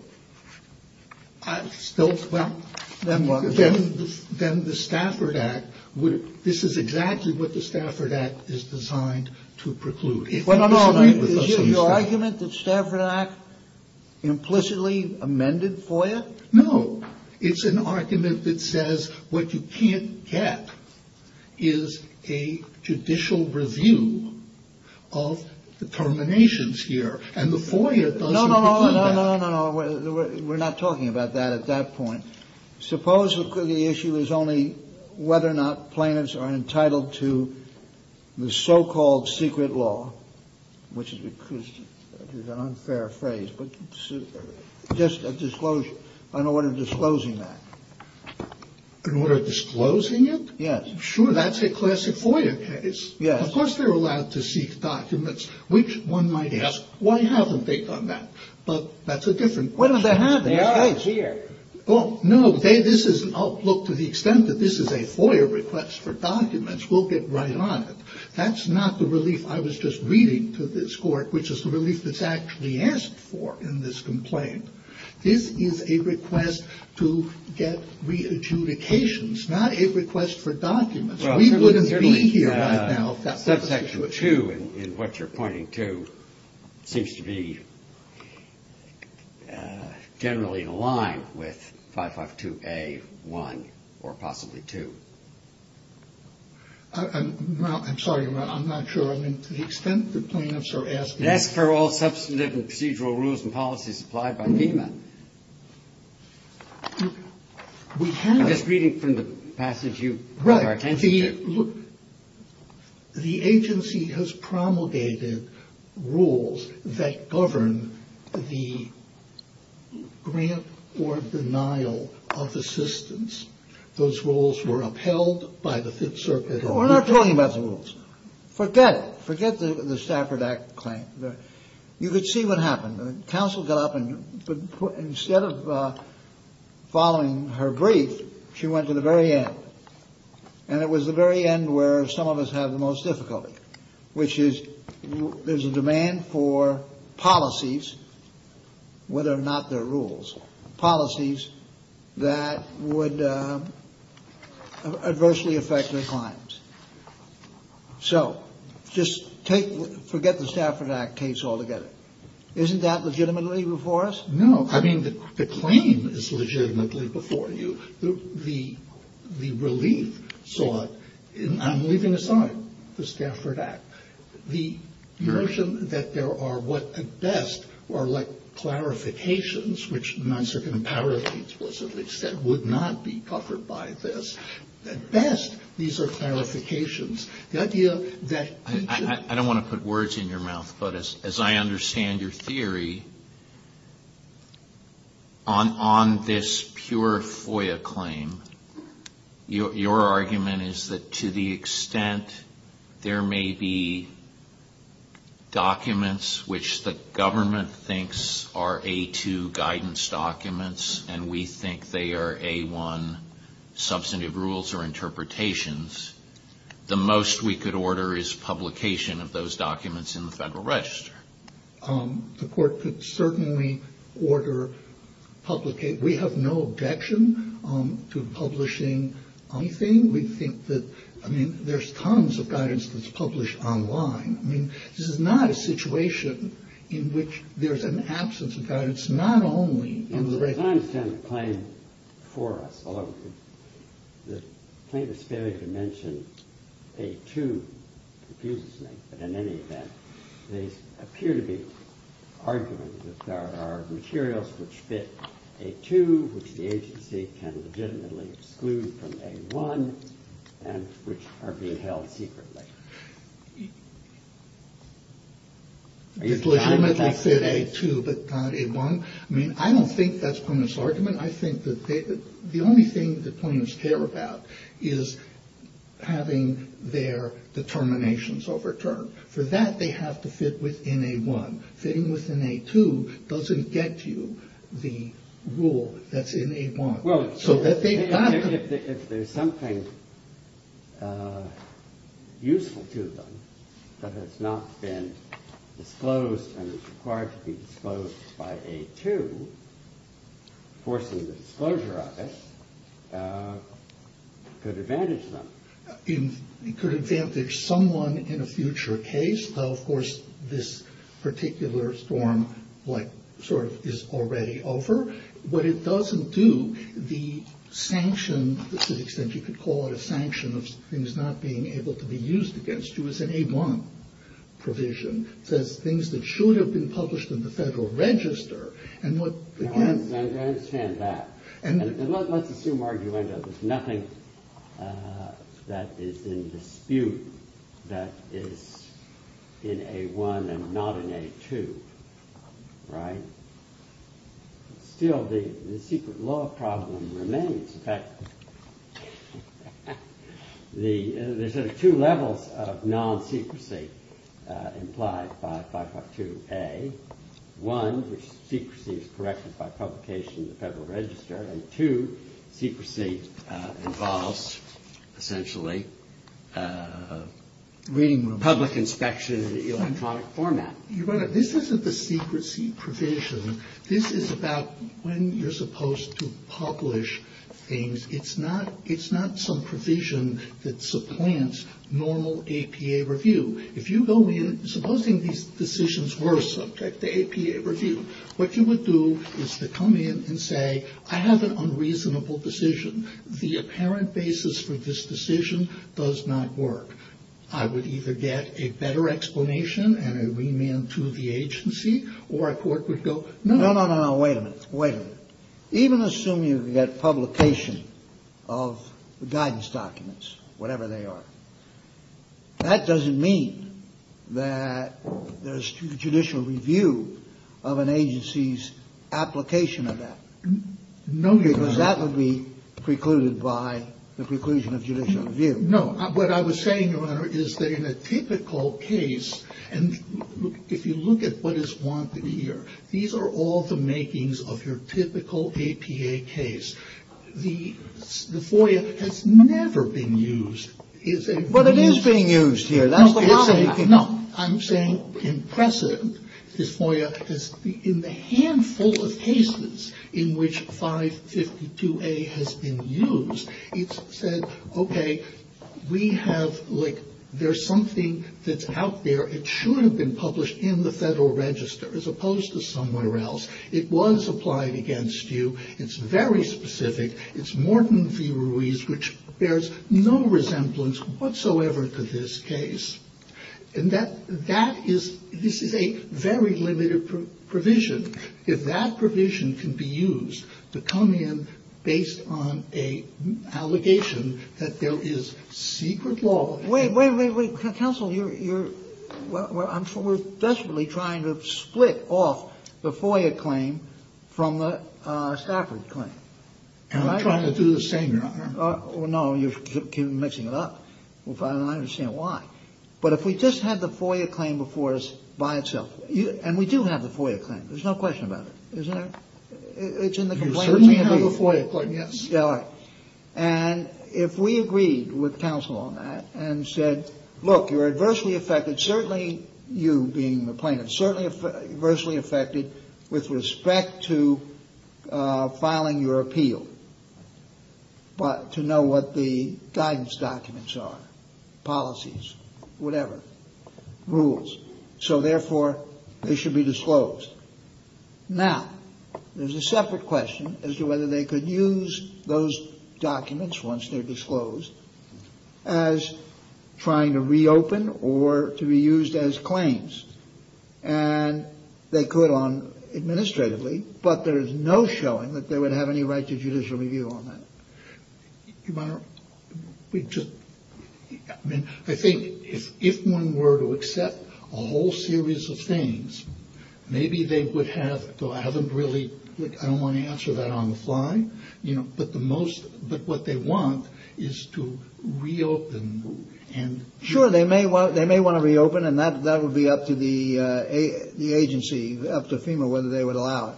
Then what? Then the Stafford Act, this is exactly what the Stafford Act is designed to preclude. Is this an argument that Stafford Act implicitly amended FOIA? No. It's an argument that says what you can't get is a judicial review of determinations here. And the FOIA does not do that. No, no, no. We're not talking about that at that point. Suppose the issue is only whether or not claimants are entitled to the so-called secret law, which is an unfair phrase, but just a disclosure. I know we're disclosing that. And we're disclosing it? Yes. Sure, that's a classic FOIA case. Of course they're allowed to seek documents, which one might ask, why haven't they done that? But that's a different question. They are here. No, look, to the extent that this is a FOIA request for documents, we'll get right on it. That's not the relief I was just reading to this court, which is the relief that's actually asked for in this complaint. This is a request to get re-adjudications, not a request for documents. We wouldn't be here right now. That section 2 in what you're pointing to seems to be generally in line with 552A1 or possibly 2. I'm sorry. I'm not sure. I mean, to the extent that claimants are asking. That's for all substantive and procedural rules and policies applied by FEMA. I'm just reading from the passage. Right. The agency has promulgated rules that govern the grant or denial of assistance. Those rules were upheld by the Fifth Circuit. We're not talking about the rules. Forget it. Forget the Stafford Act claim. You could see what happened. The counsel got up and instead of following her brief, she went to the very end, and it was the very end where some of us have the most difficulty, which is there's a demand for policies, whether or not they're rules, policies that would adversely affect their clients. So just forget the Stafford Act case altogether. Isn't that legitimately before us? No. I mean, the claim is legitimately before you. The relief sought, I'm leaving aside the Stafford Act. The notion that there are what at best are like clarifications, which NISA can clarify explicitly, would not be covered by this. At best, these are clarifications. I don't want to put words in your mouth, but as I understand your theory, on this pure FOIA claim, your argument is that to the extent there may be documents which the government thinks are A2 guidance documents and we think they are A1 substantive rules or interpretations, the most we could order is publication of those documents in the Federal Register. The court could certainly order publication. We have no objection to publishing anything. We think that, I mean, there's tons of guidance that's published online. I mean, this is not a situation in which there's an absence of guidance, not only in the… In the content of the claim for us, although the claim is fairly dimensioned, A2, confusingly, but in any event, they appear to be arguments that there are materials which fit A2, which the agency can legitimately exclude from A1, and which are being held secretly. You're telling me they fit A2 but not A1? I mean, I don't think that's Quinn's argument. I think that the only thing that claims care about is having their determinations overturned. For that, they have to fit within A1. Fitting within A2 doesn't get you the rule that's in A1. Well, if there's something useful to them that has not been disclosed and is required to be disclosed by A2, forcing the disclosure of it could advantage them. It could advantage someone in a future case. Of course, this particular storm is already over. But it doesn't do the sanction, to the extent you could call it a sanction, of things not being able to be used against you as an A1 provision. The things that should have been published in the Federal Register… I understand that. Let's assume argument that there's nothing that is in dispute that is in A1 and not in A2. Right? Still, the secret law problem remains. In fact, there's two levels of non-secrecy implied by 5.2a. One, secrecy is corrected by publication in the Federal Register. And two, secrecy involves, essentially, public inspection in an electronic format. This isn't the secrecy provision. This is about when you're supposed to publish things. It's not some provision that supplants normal APA review. If you go in, supposing these decisions were subject to APA review, what you would do is to come in and say, I have an unreasonable decision. The apparent basis for this decision does not work. I would either get a better explanation and a remand to the agency, or a court would go, no, no, no, wait a minute. Wait a minute. Even assume you get publication of guidance documents, whatever they are. That doesn't mean that there's judicial review of an agency's application of that. No, because that would be precluded by the preclusion of judicial review. No. What I was saying, Your Honor, is that in a typical case, and if you look at what is wanted here, these are all the makings of your typical APA case. The FOIA has never been used. But it is being used here. I'm saying in precedent, this FOIA, in the handful of cases in which 552A has been used, it's said, okay, we have, like, there's something that's out there. It should have been published in the Federal Register, as opposed to somewhere else. It was applied against you. It's very specific. It's Morton v. Ruiz, which bears no resemblance whatsoever to this case. And that is a very limited provision. Yet that provision can be used to come in based on an allegation that there is secret law. Wait, wait, wait, wait. Counsel, you're... Well, we're desperately trying to split off the FOIA claim from the Stafford claim. And we're trying to do the same, Your Honor. Well, no, you're mixing it up. I don't understand why. But if we just had the FOIA claim before us by itself, and we do have the FOIA claim. There's no question about it. Isn't there? It's in the complaint. We certainly have a FOIA claim, yes. And if we agreed with counsel on that and said, Look, you're adversely affected, certainly you being the plaintiff, certainly adversely affected with respect to filing your appeal. But to know what the guidance documents are, policies, whatever, rules. So therefore, they should be disclosed. Now, there's a separate question as to whether they could use those documents once they're disclosed as trying to reopen or to be used as claims. And they could on administratively, but there's no showing that they would have any right to judicial review on that. Your Honor, we just... I think if one were to accept a whole series of things, maybe they would have, though I haven't really... I don't want to answer that on the fly. But what they want is to reopen. Sure, they may want to reopen, and that would be up to the agency, up to FEMA, whether they would allow it.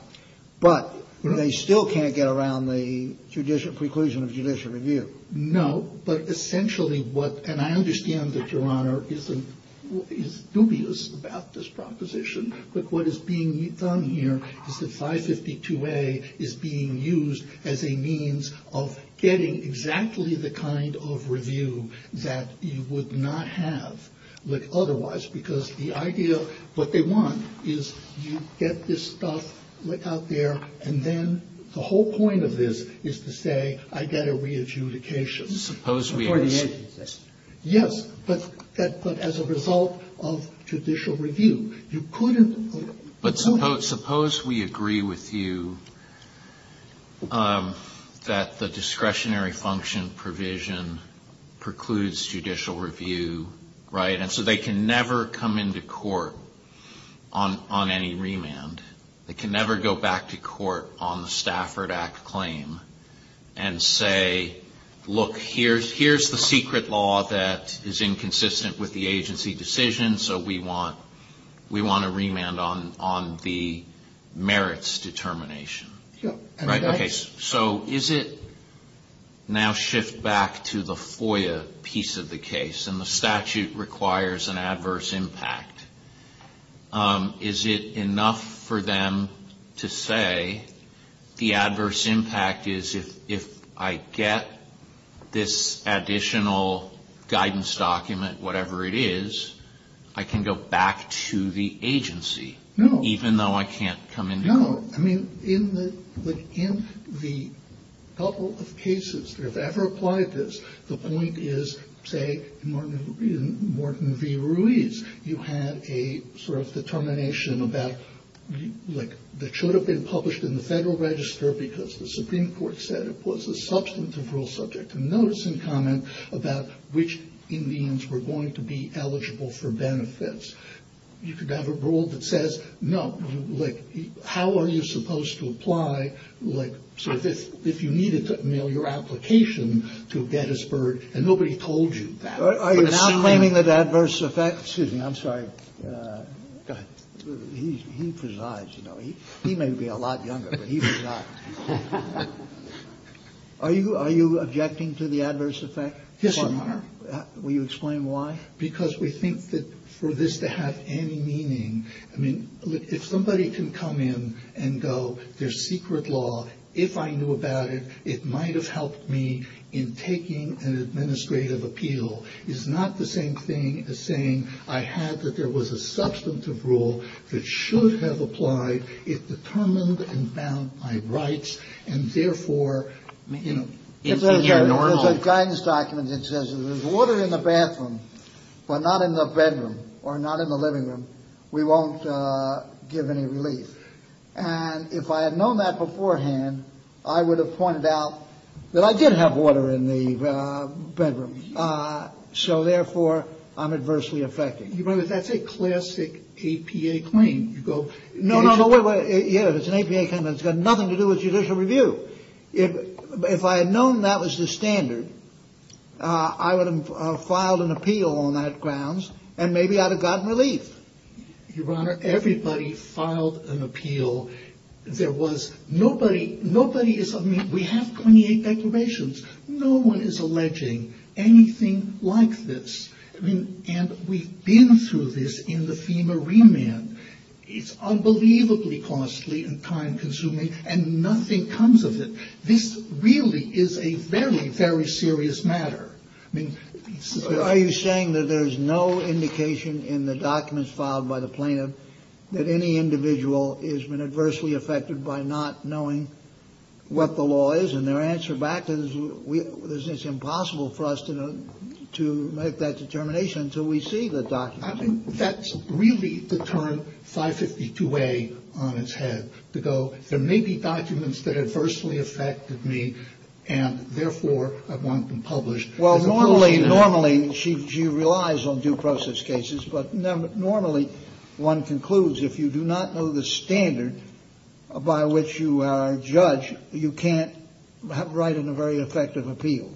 But they still can't get around the preclusion of judicial review. No, but essentially what... And I understand that Your Honor is dubious about this proposition. But what is being done here is that 552A is being used as a means of getting exactly the kind of review that you would not have otherwise. Because the idea of what they want is you get this stuff out there, and then the whole point of this is to say, I get a re-adjudication for the agency. Yes, but as a result of judicial review. But suppose we agree with you that the discretionary function provision precludes judicial review, right? And so they can never come into court on any remand. They can never go back to court on the Stafford Act claim and say, look, here's the secret law that is inconsistent with the agency decision, and so we want a remand on the merits determination. So is it now shift back to the FOIA piece of the case, and the statute requires an adverse impact. Is it enough for them to say the adverse impact is if I get this additional guidance document, whatever it is, I can go back to the agency, even though I can't come into court? No. I mean, in the couple of cases that have ever applied this, the point is, say, in Morton v. Ruiz, you had a sort of determination that should have been published in the Federal Register because the Supreme Court said it was a substantive rule subject. about which Indians were going to be eligible for benefits. You could have a rule that says, no, like, how are you supposed to apply, like, so if you needed to mail your application to Gettysburg and nobody told you that. Are you claiming that adverse effects? Excuse me, I'm sorry. He presides, you know. He may be a lot younger, but he presides. Are you objecting to the adverse effect? Yes, I am. Will you explain why? Because we think that for this to have any meaning, I mean, if somebody can come in and go, there's secret law, if I knew about it, it might have helped me in taking an administrative appeal. It's not the same thing as saying I had that there was a substantive rule that should have applied if determined and bound by rights, and therefore, you know. There's a guidance document that says if there's water in the bathroom but not in the bedroom or not in the living room, we won't give any relief. And if I had known that beforehand, I would have pointed out that I did have water in the bedroom. So, therefore, I'm adversely affected. Your Honor, that's a classic APA claim. No, no, no. Yes, it's an APA claim. It's got nothing to do with judicial review. If I had known that was the standard, I would have filed an appeal on that grounds, and maybe I'd have gotten relief. Your Honor, everybody filed an appeal. There was nobody, nobody is, I mean, we have 28 declarations. No one is alleging anything like this. And we've been through this in the FEMA remand. It's unbelievably costly and time-consuming, and nothing comes of it. This really is a very, very serious matter. Are you saying that there's no indication in the documents filed by the plaintiff that any individual is adversely affected by not knowing what the law is, and their answer back is it's impossible for us to make that determination until we see the document? I think that's really the term 552A on its head, to go, there may be documents that are adversely affected me, and, therefore, I want them published. Well, normally she relies on due process cases, but normally one concludes if you do not know the standard by which you judge, you can't write a very effective appeal.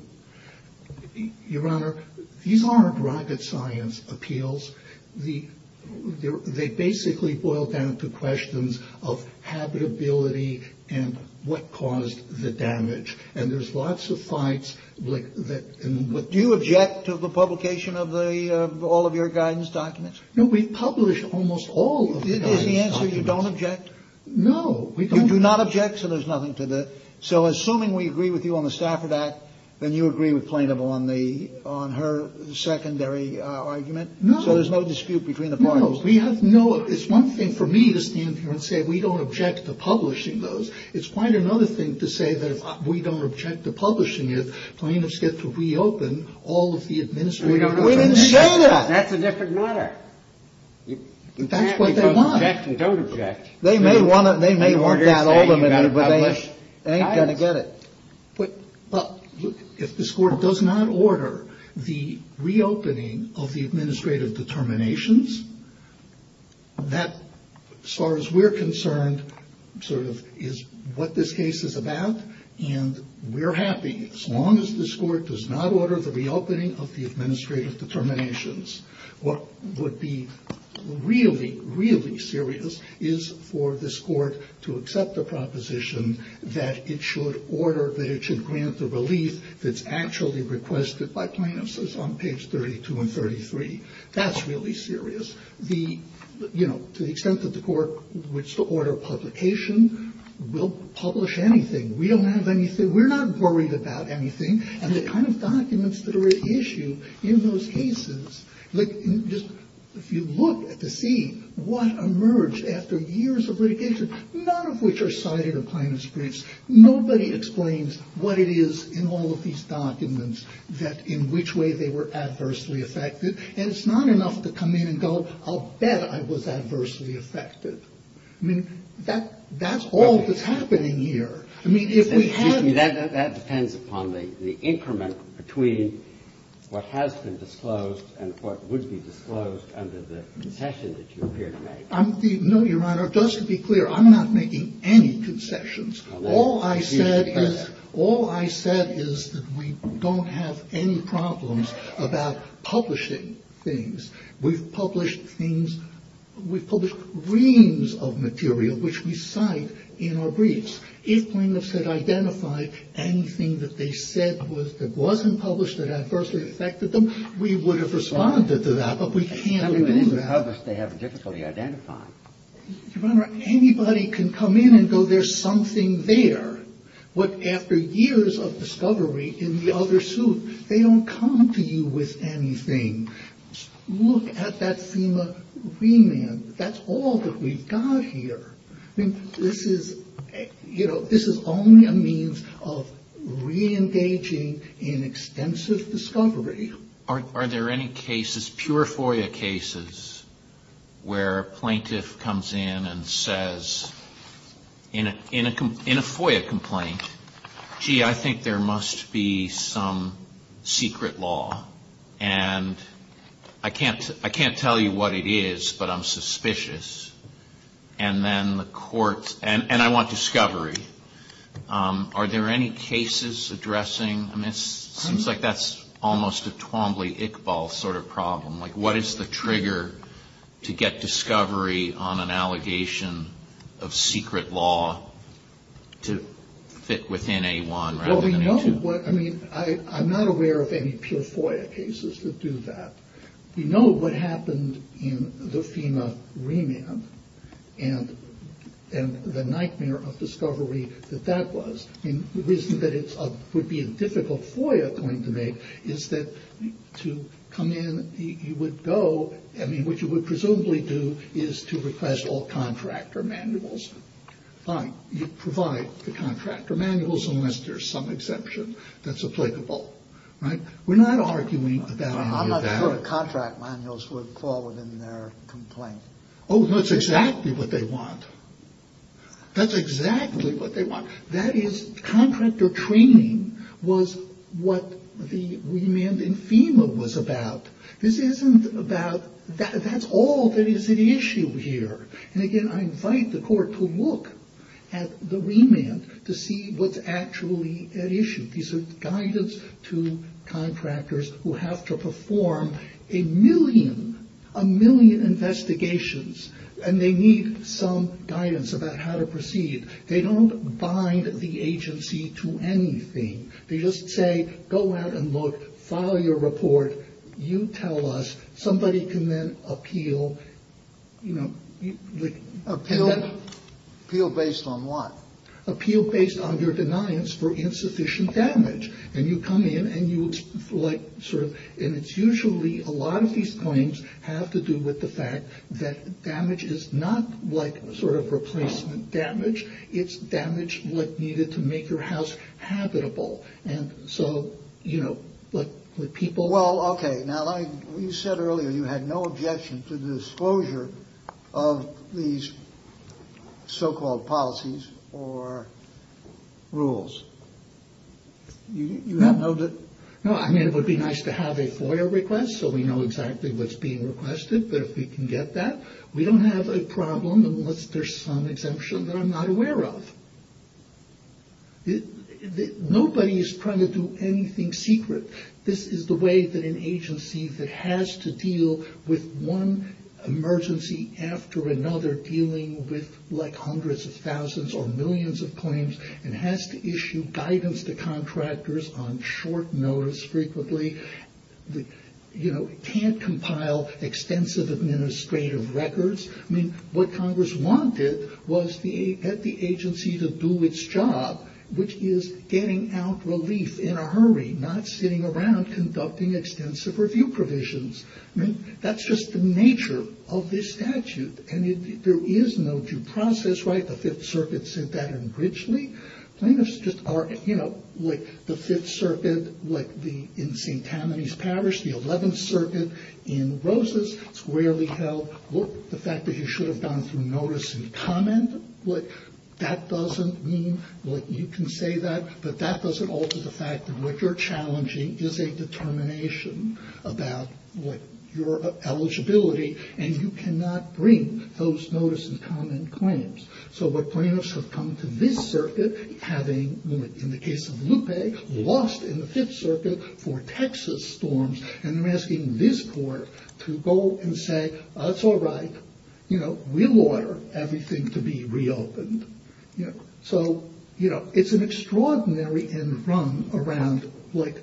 Your Honor, these aren't rapid science appeals. They basically boil down to questions of habitability and what caused the damage, and there's lots of fights. But do you object to the publication of all of your guidance documents? We publish almost all of them. Is the answer you don't object? No. You do not object, so there's nothing to that. So assuming we agree with you on the staff of that, then you agree with Plaintiff on her secondary argument? No. So there's no dispute between the parties? No. It's one thing for me to stand here and say we don't object to publishing those. It's quite another thing to say that we don't object to publishing it. Plaintiffs get to reopen all of the administrative documents. That's a different matter. That's what they want. You can't say you don't object. They may want it. They may want that ultimately, but they ain't going to get it. If this Court does not order the reopening of the administrative determinations, that, as far as we're concerned, sort of is what this case is about, and we're happy as long as this Court does not order the reopening of the administrative determinations. What would be really, really serious is for this Court to accept the proposition that it should order, that it should grant the relief that's actually requested by plaintiffs, as on page 32 and 33. That's really serious. The, you know, to the extent that the Court would still order publication, we'll publish anything. We don't have anything. We're not worried about anything, and the kind of documents that are at issue in those cases, like just if you look at the scene, what emerged after years of litigation, none of which are cited in plaintiff's briefs. Nobody explains what it is in all of these documents that in which way they were adversely affected, and it's not enough to come in and go, I'll bet I was adversely affected. I mean, that's all that's happening here. That depends upon the increment between what has been disclosed and what would be disclosed under the concession that you appear to make. No, Your Honor, just to be clear, I'm not making any concessions. All I said is that we don't have any problems about publishing things. We've published things, we've published reams of material which we cite in our briefs. If plaintiffs could identify anything that they said was or wasn't published that adversely affected them, we would have responded to that, but we can't do that. How does they have difficulty identifying? Your Honor, anybody can come in and go, there's something there. But after years of discovery in the other suit, they don't come to you with anything. Look at that FEMA remand. That's all that we've got here. I mean, this is only a means of reengaging in extensive discovery. Are there any cases, pure FOIA cases, where a plaintiff comes in and says, in a FOIA complaint, gee, I think there must be some secret law, and I can't tell you what it is, but I'm suspicious. And then the court, and I want discovery. Are there any cases addressing, I mean, it seems like that's almost a Twombly-Iqbal sort of problem. Like, what is the trigger to get discovery on an allegation of secret law to fit within a one? Well, we know what, I mean, I'm not aware of any pure FOIA cases that do that. We know what happened in the FEMA remand, and the nightmare of discovery that that was. And the reason that it would be a difficult FOIA claim to make is that to come in, you would go, I mean, what you would presumably do is to request all contractor manuals. Fine, you provide the contractor manuals, unless there's some exemption that's applicable. We're not arguing about that. Oh, that's exactly what they want. That's exactly what they want. That is, contractor training was what the remand in FEMA was about. This isn't about, that's all that is at issue here. And again, I invite the court to look at the remand to see what's actually at issue. These are guidance to contractors who have to perform a million, a million investigations, and they need some guidance about how to proceed. They don't bind the agency to anything. They just say, go out and look, file your report, you tell us, somebody can then appeal, you know. Appeal based on what? It's for institution damage. And you come in and you, like, sort of, and it's usually a lot of these claims have to do with the fact that damage is not, like, sort of replacement damage. It's damage, like, needed to make your house habitable. And so, you know, like, the people... You said earlier you had no objection to the disclosure of these so-called policies or rules. You have no... No, I mean, it would be nice to have a FOIA request so we know exactly what's being requested, but if we can get that. We don't have a problem unless there's some exemption that I'm not aware of. Nobody is trying to do anything secret. This is the way that an agency that has to deal with one emergency after another dealing with, like, hundreds of thousands or millions of claims, and has to issue guidance to contractors on short notice frequently, you know, can't compile extensive administrative records. I mean, what Congress wanted was the agency to do its job, which is getting out relief in a hurry, not sitting around conducting extensive review provisions. I mean, that's just the nature of this statute. And there is no due process, right? The Fifth Circuit said that originally. Plaintiffs just are, you know, like, the Fifth Circuit, like, in St. Tammany's Parish, the Eleventh Circuit, in Rosas, it's rarely held, look, the fact that you should have gone through notice and comment, like, that doesn't mean that you can say that, but that doesn't alter the fact that what you're challenging is a determination about, like, your eligibility, and you cannot bring those notice and comment claims. So the plaintiffs have come to this circuit, having, in the case of Lupe, lost in the Fifth Circuit for Texas storms, and they're asking this court to go and say, that's all right, you know, reward everything to be reopened. So, you know, it's an extraordinary enrung around, like,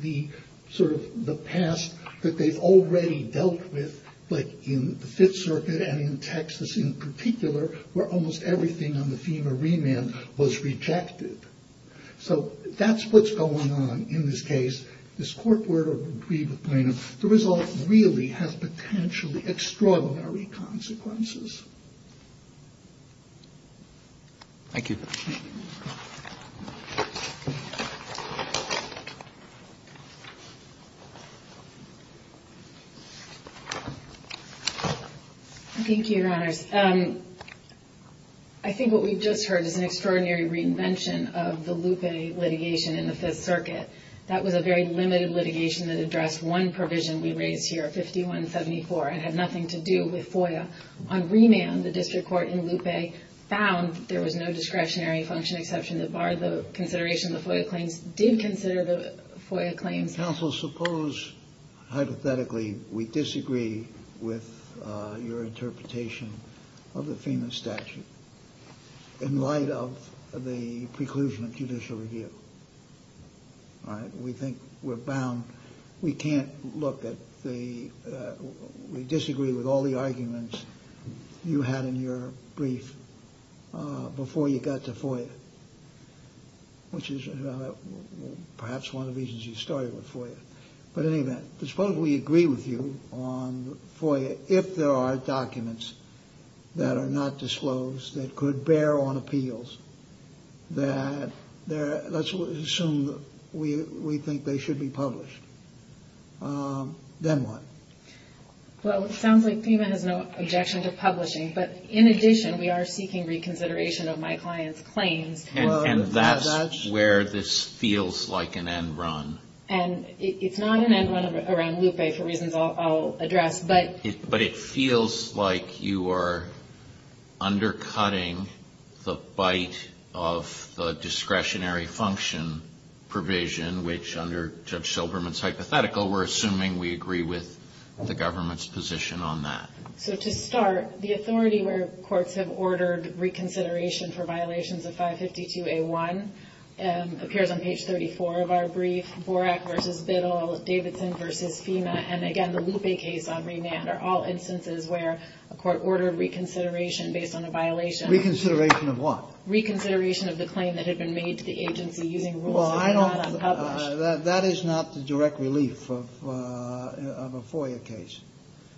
the sort of the past that they've already dealt with, but in the Fifth Circuit, and in Texas in particular, where almost everything on the theme of remand was rejected. So that's what's going on in this case. This court were to retrieve the plaintiff. The result really has potentially extraordinary consequences. Thank you. Thank you, Your Honors. I think what we've just heard is an extraordinary reinvention of the Lupe litigation in the Fifth Circuit. That was a very limited litigation that addressed one provision we rated here, 5174, and had nothing to do with FOIA. On remand, the district court in Lupe found there was no discretionary function exception that barred the consideration of FOIA claims, did consider the FOIA claims. Counsel, suppose, hypothetically, we disagree with your interpretation of the FEMA statute in light of the preclusion judicially here. All right, we think we're bound. We can't look at the—we disagree with all the arguments you had in your brief before you got to FOIA, which is perhaps one of the reasons you started with FOIA. But anyway, suppose we agree with you on FOIA if there are documents that are not disclosed that could bear on appeals. Let's assume we think they should be published. Then what? Well, it sounds like FEMA has no objection to publishing. But in addition, we are seeking reconsideration of my client's claims to a judge. And that's where this feels like an end run. And it's not an end run around Lupe, for reasons I'll address. But it feels like you are undercutting the bite of the discretionary function provision, which under Judge Silverman's hypothetical, we're assuming we agree with the government's position on that. So to start, the authority where courts have ordered reconsideration for violations of 552A1 appears on page 34 of our brief, Borak v. Biddle, Davidson v. FEMA. And again, the Lupe case on remand are all instances where a court ordered reconsideration based on a violation. Reconsideration of what? Reconsideration of the claim that had been made to the agency using rules that were not unpublished. That is not the direct relief of a FOIA case.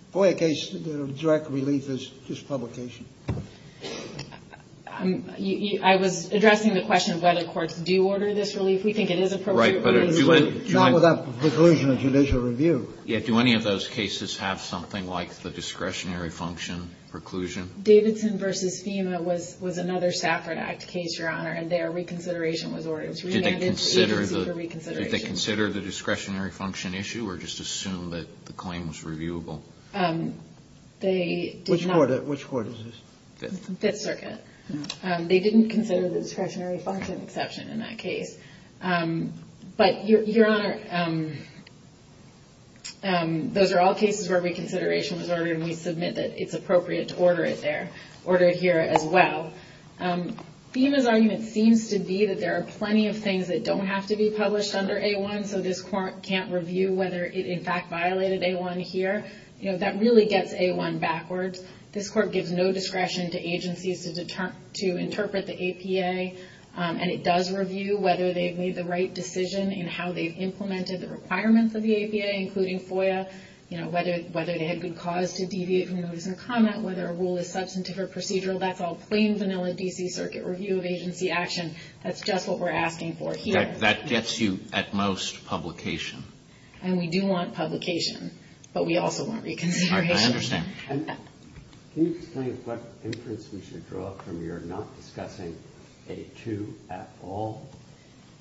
A FOIA case, the direct relief is just publication. I was addressing the question of whether courts do order this relief. We think it is appropriate. Right, but do I... Not without preclusion of judicial review. Yeah, do any of those cases have something like the discretionary function preclusion? Davidson v. FEMA was another Stafford Act case, Your Honor, and their reconsideration was ordered. Did they consider the discretionary function issue or just assume that the claim was reviewable? Which court is this? Fifth Circuit. They didn't consider the discretionary function exception in that case. But, Your Honor, those are all cases where reconsideration was ordered, and we submit that it's appropriate to order it here as well. FEMA's argument seems to be that there are plenty of things that don't have to be published under A1, so this court can't review whether it, in fact, violated A1 here. That really gets A1 backwards. This court gives no discretion to agencies to interpret the APA, and it does review whether they've made the right decision in how they've implemented the requirements of the APA, including FOIA, whether it had good cause to deviate from the rules of comment, whether a rule is substantive or procedural. That's all plain, vanilla D.C. Circuit review of agency action. That's just what we're asking for here. That gets you, at most, publication. And we do want publication, but we also want reconsideration. I understand. Can you explain what inference we should draw from your not discussing A2 at all?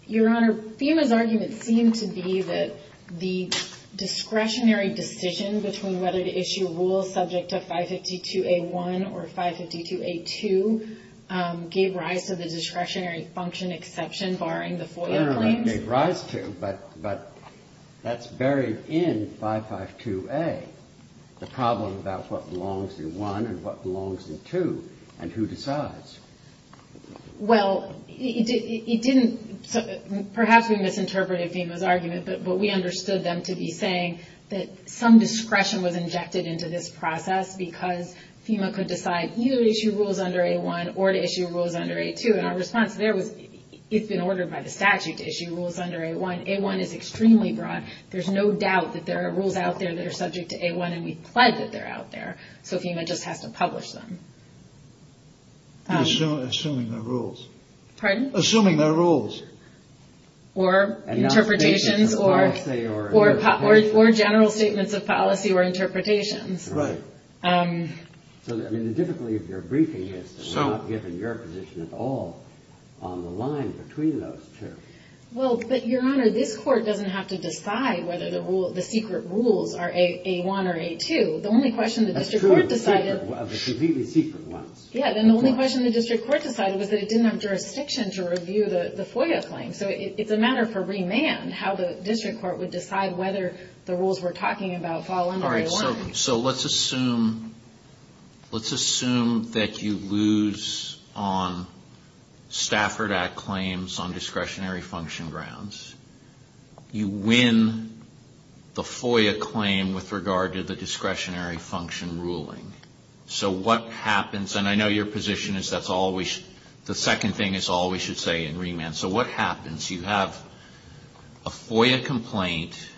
Your Honor, FEMA's argument seems to be that the discretionary decision between whether to issue rules subject to 552A1 or 552A2 gave rise to the discretionary function exception, barring the FOIA claim. Gave rise to, but that's buried in 552A, the problem about what belongs in 1 and what belongs in 2, and who decides. Well, it didn't – perhaps we misinterpreted FEMA's argument, but we understood them to be saying that some discretion was injected into this process because FEMA could decide either to issue rules under A1 or to issue rules under A2. And our response there was it's been ordered by the statute to issue rules under A1. A1 is extremely broad. There's no doubt that there are rules out there that are subject to A1, and we supplied that they're out there. So FEMA just has to publish them. Assuming they're rules. Pardon? Assuming they're rules. Or interpretations or general statements of policy or interpretations. Right. So, I mean, typically, if you're briefing, it's not given your position at all on the line between those two. Well, but, Your Honor, this Court doesn't have to decide whether the secret rules are A1 or A2. The only question the district court decided – That's true. The secret ones. Yeah, and the only question the district court decided was that it didn't have jurisdiction to review the FOIA claim. So it's a matter for remand how the district court would decide whether the rules we're talking about fall under A1. So let's assume that you lose on Stafford Act claims on discretionary function grounds. You win the FOIA claim with regard to the discretionary function ruling. So what happens – and I know your position is that's always – the second thing is always, you'd say, in remand. So what happens? You have a FOIA complaint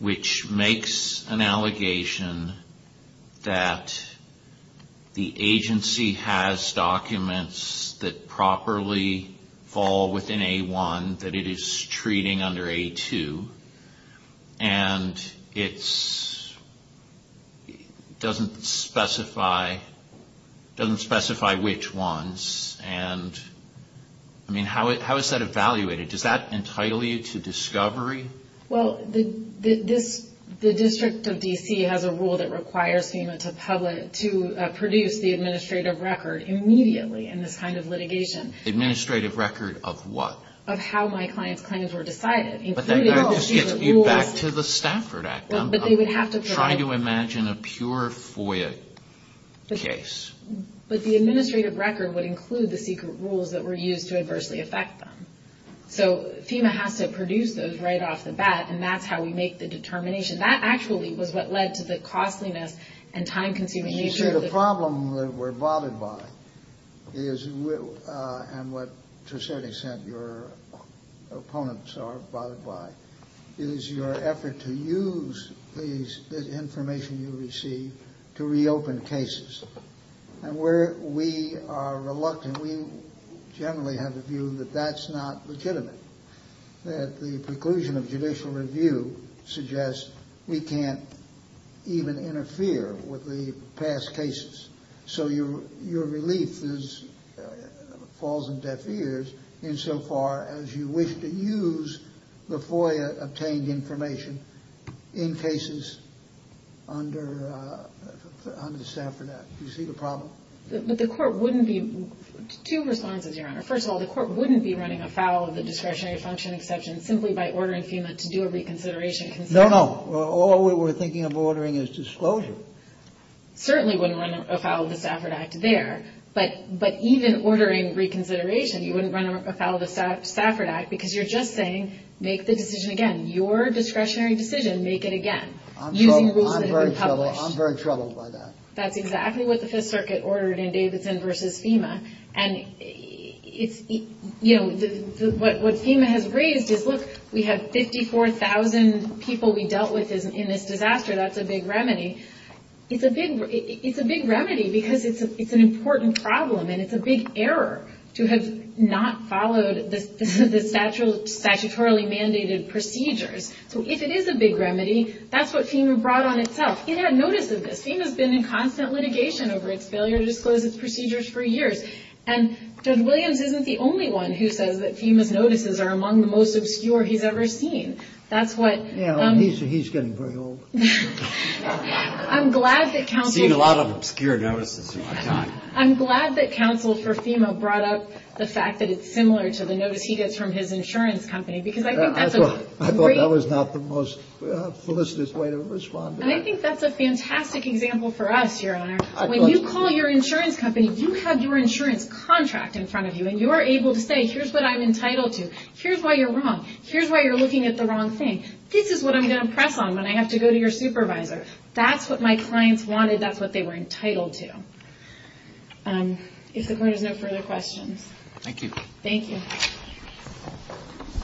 which makes an allegation that the agency has documents that properly fall within A1 that it is treating under A2, and it doesn't specify which ones. And, I mean, how is that evaluated? Does that entitle you to discovery? Well, the district of D.C. has a rule that requires FEMA to produce the administrative record immediately in this kind of litigation. Administrative record of what? Of how my client's claims were decided. But that kind of gives you feedback to the Stafford Act. But they would have to provide – I'm trying to imagine a pure FOIA case. But the administrative record would include the secret rules that were used to adversely affect them. So FEMA has to produce those right off the bat, and that's how we make the determination. That actually was what led to the costliness and time-consuming issue. To me, the problem we're bothered by is – and what, to a certain extent, your opponents are bothered by – is your effort to use this information you receive to reopen cases. And where we are reluctant, we generally have a view that that's not legitimate, that the conclusion of judicial review suggests we can't even interfere with the past cases. So your relief falls in deaf ears insofar as you wish to use the FOIA-obtained information in cases under the Stafford Act. Do you see the problem? The court wouldn't be – two responses, Your Honor. First of all, the court wouldn't be running afoul of the discretionary function exception simply by ordering FEMA to do a reconsideration. No, no. All we were thinking of ordering is disclosure. Certainly wouldn't run afoul of the Stafford Act there. But even ordering reconsideration, you wouldn't run afoul of the Stafford Act because you're just saying, make the decision again. Your discretionary decision, make it again. I'm very troubled by that. That's exactly what the Fifth Circuit ordered in Davidson v. FEMA. And, you know, what FEMA has raised is, look, we have 54,000 people we dealt with in this disaster. That's a big remedy. It's a big remedy because it's an important problem and it's a big error to have not followed the statutorily mandated procedures. So if it is a big remedy, that's what FEMA brought on itself. FEMA notices this. FEMA's been in constant litigation over its failure to disclose its procedures for years. And Judge Williams isn't the only one who says that FEMA's notices are among the most obscure he's ever seen. That's what – Yeah, he's getting very old. I'm glad that counsel – There's been a lot of obscure notices. I'm glad that counsel for FEMA brought up the fact that it's similar to the notice he gets from his insurance company because I think that's a – I thought that was not the most solicitous way to respond to that. And I think that's a fantastic example for us, Your Honor. When you call your insurance company, you have your insurance contract in front of you and you are able to say, here's what I'm entitled to. Here's why you're wrong. Here's why you're looking at the wrong thing. This is what I'm going to impress on when I have to go to your supervisor. That's what my clients wanted. That's what they were entitled to. If there's no further questions. Thank you. Thank you.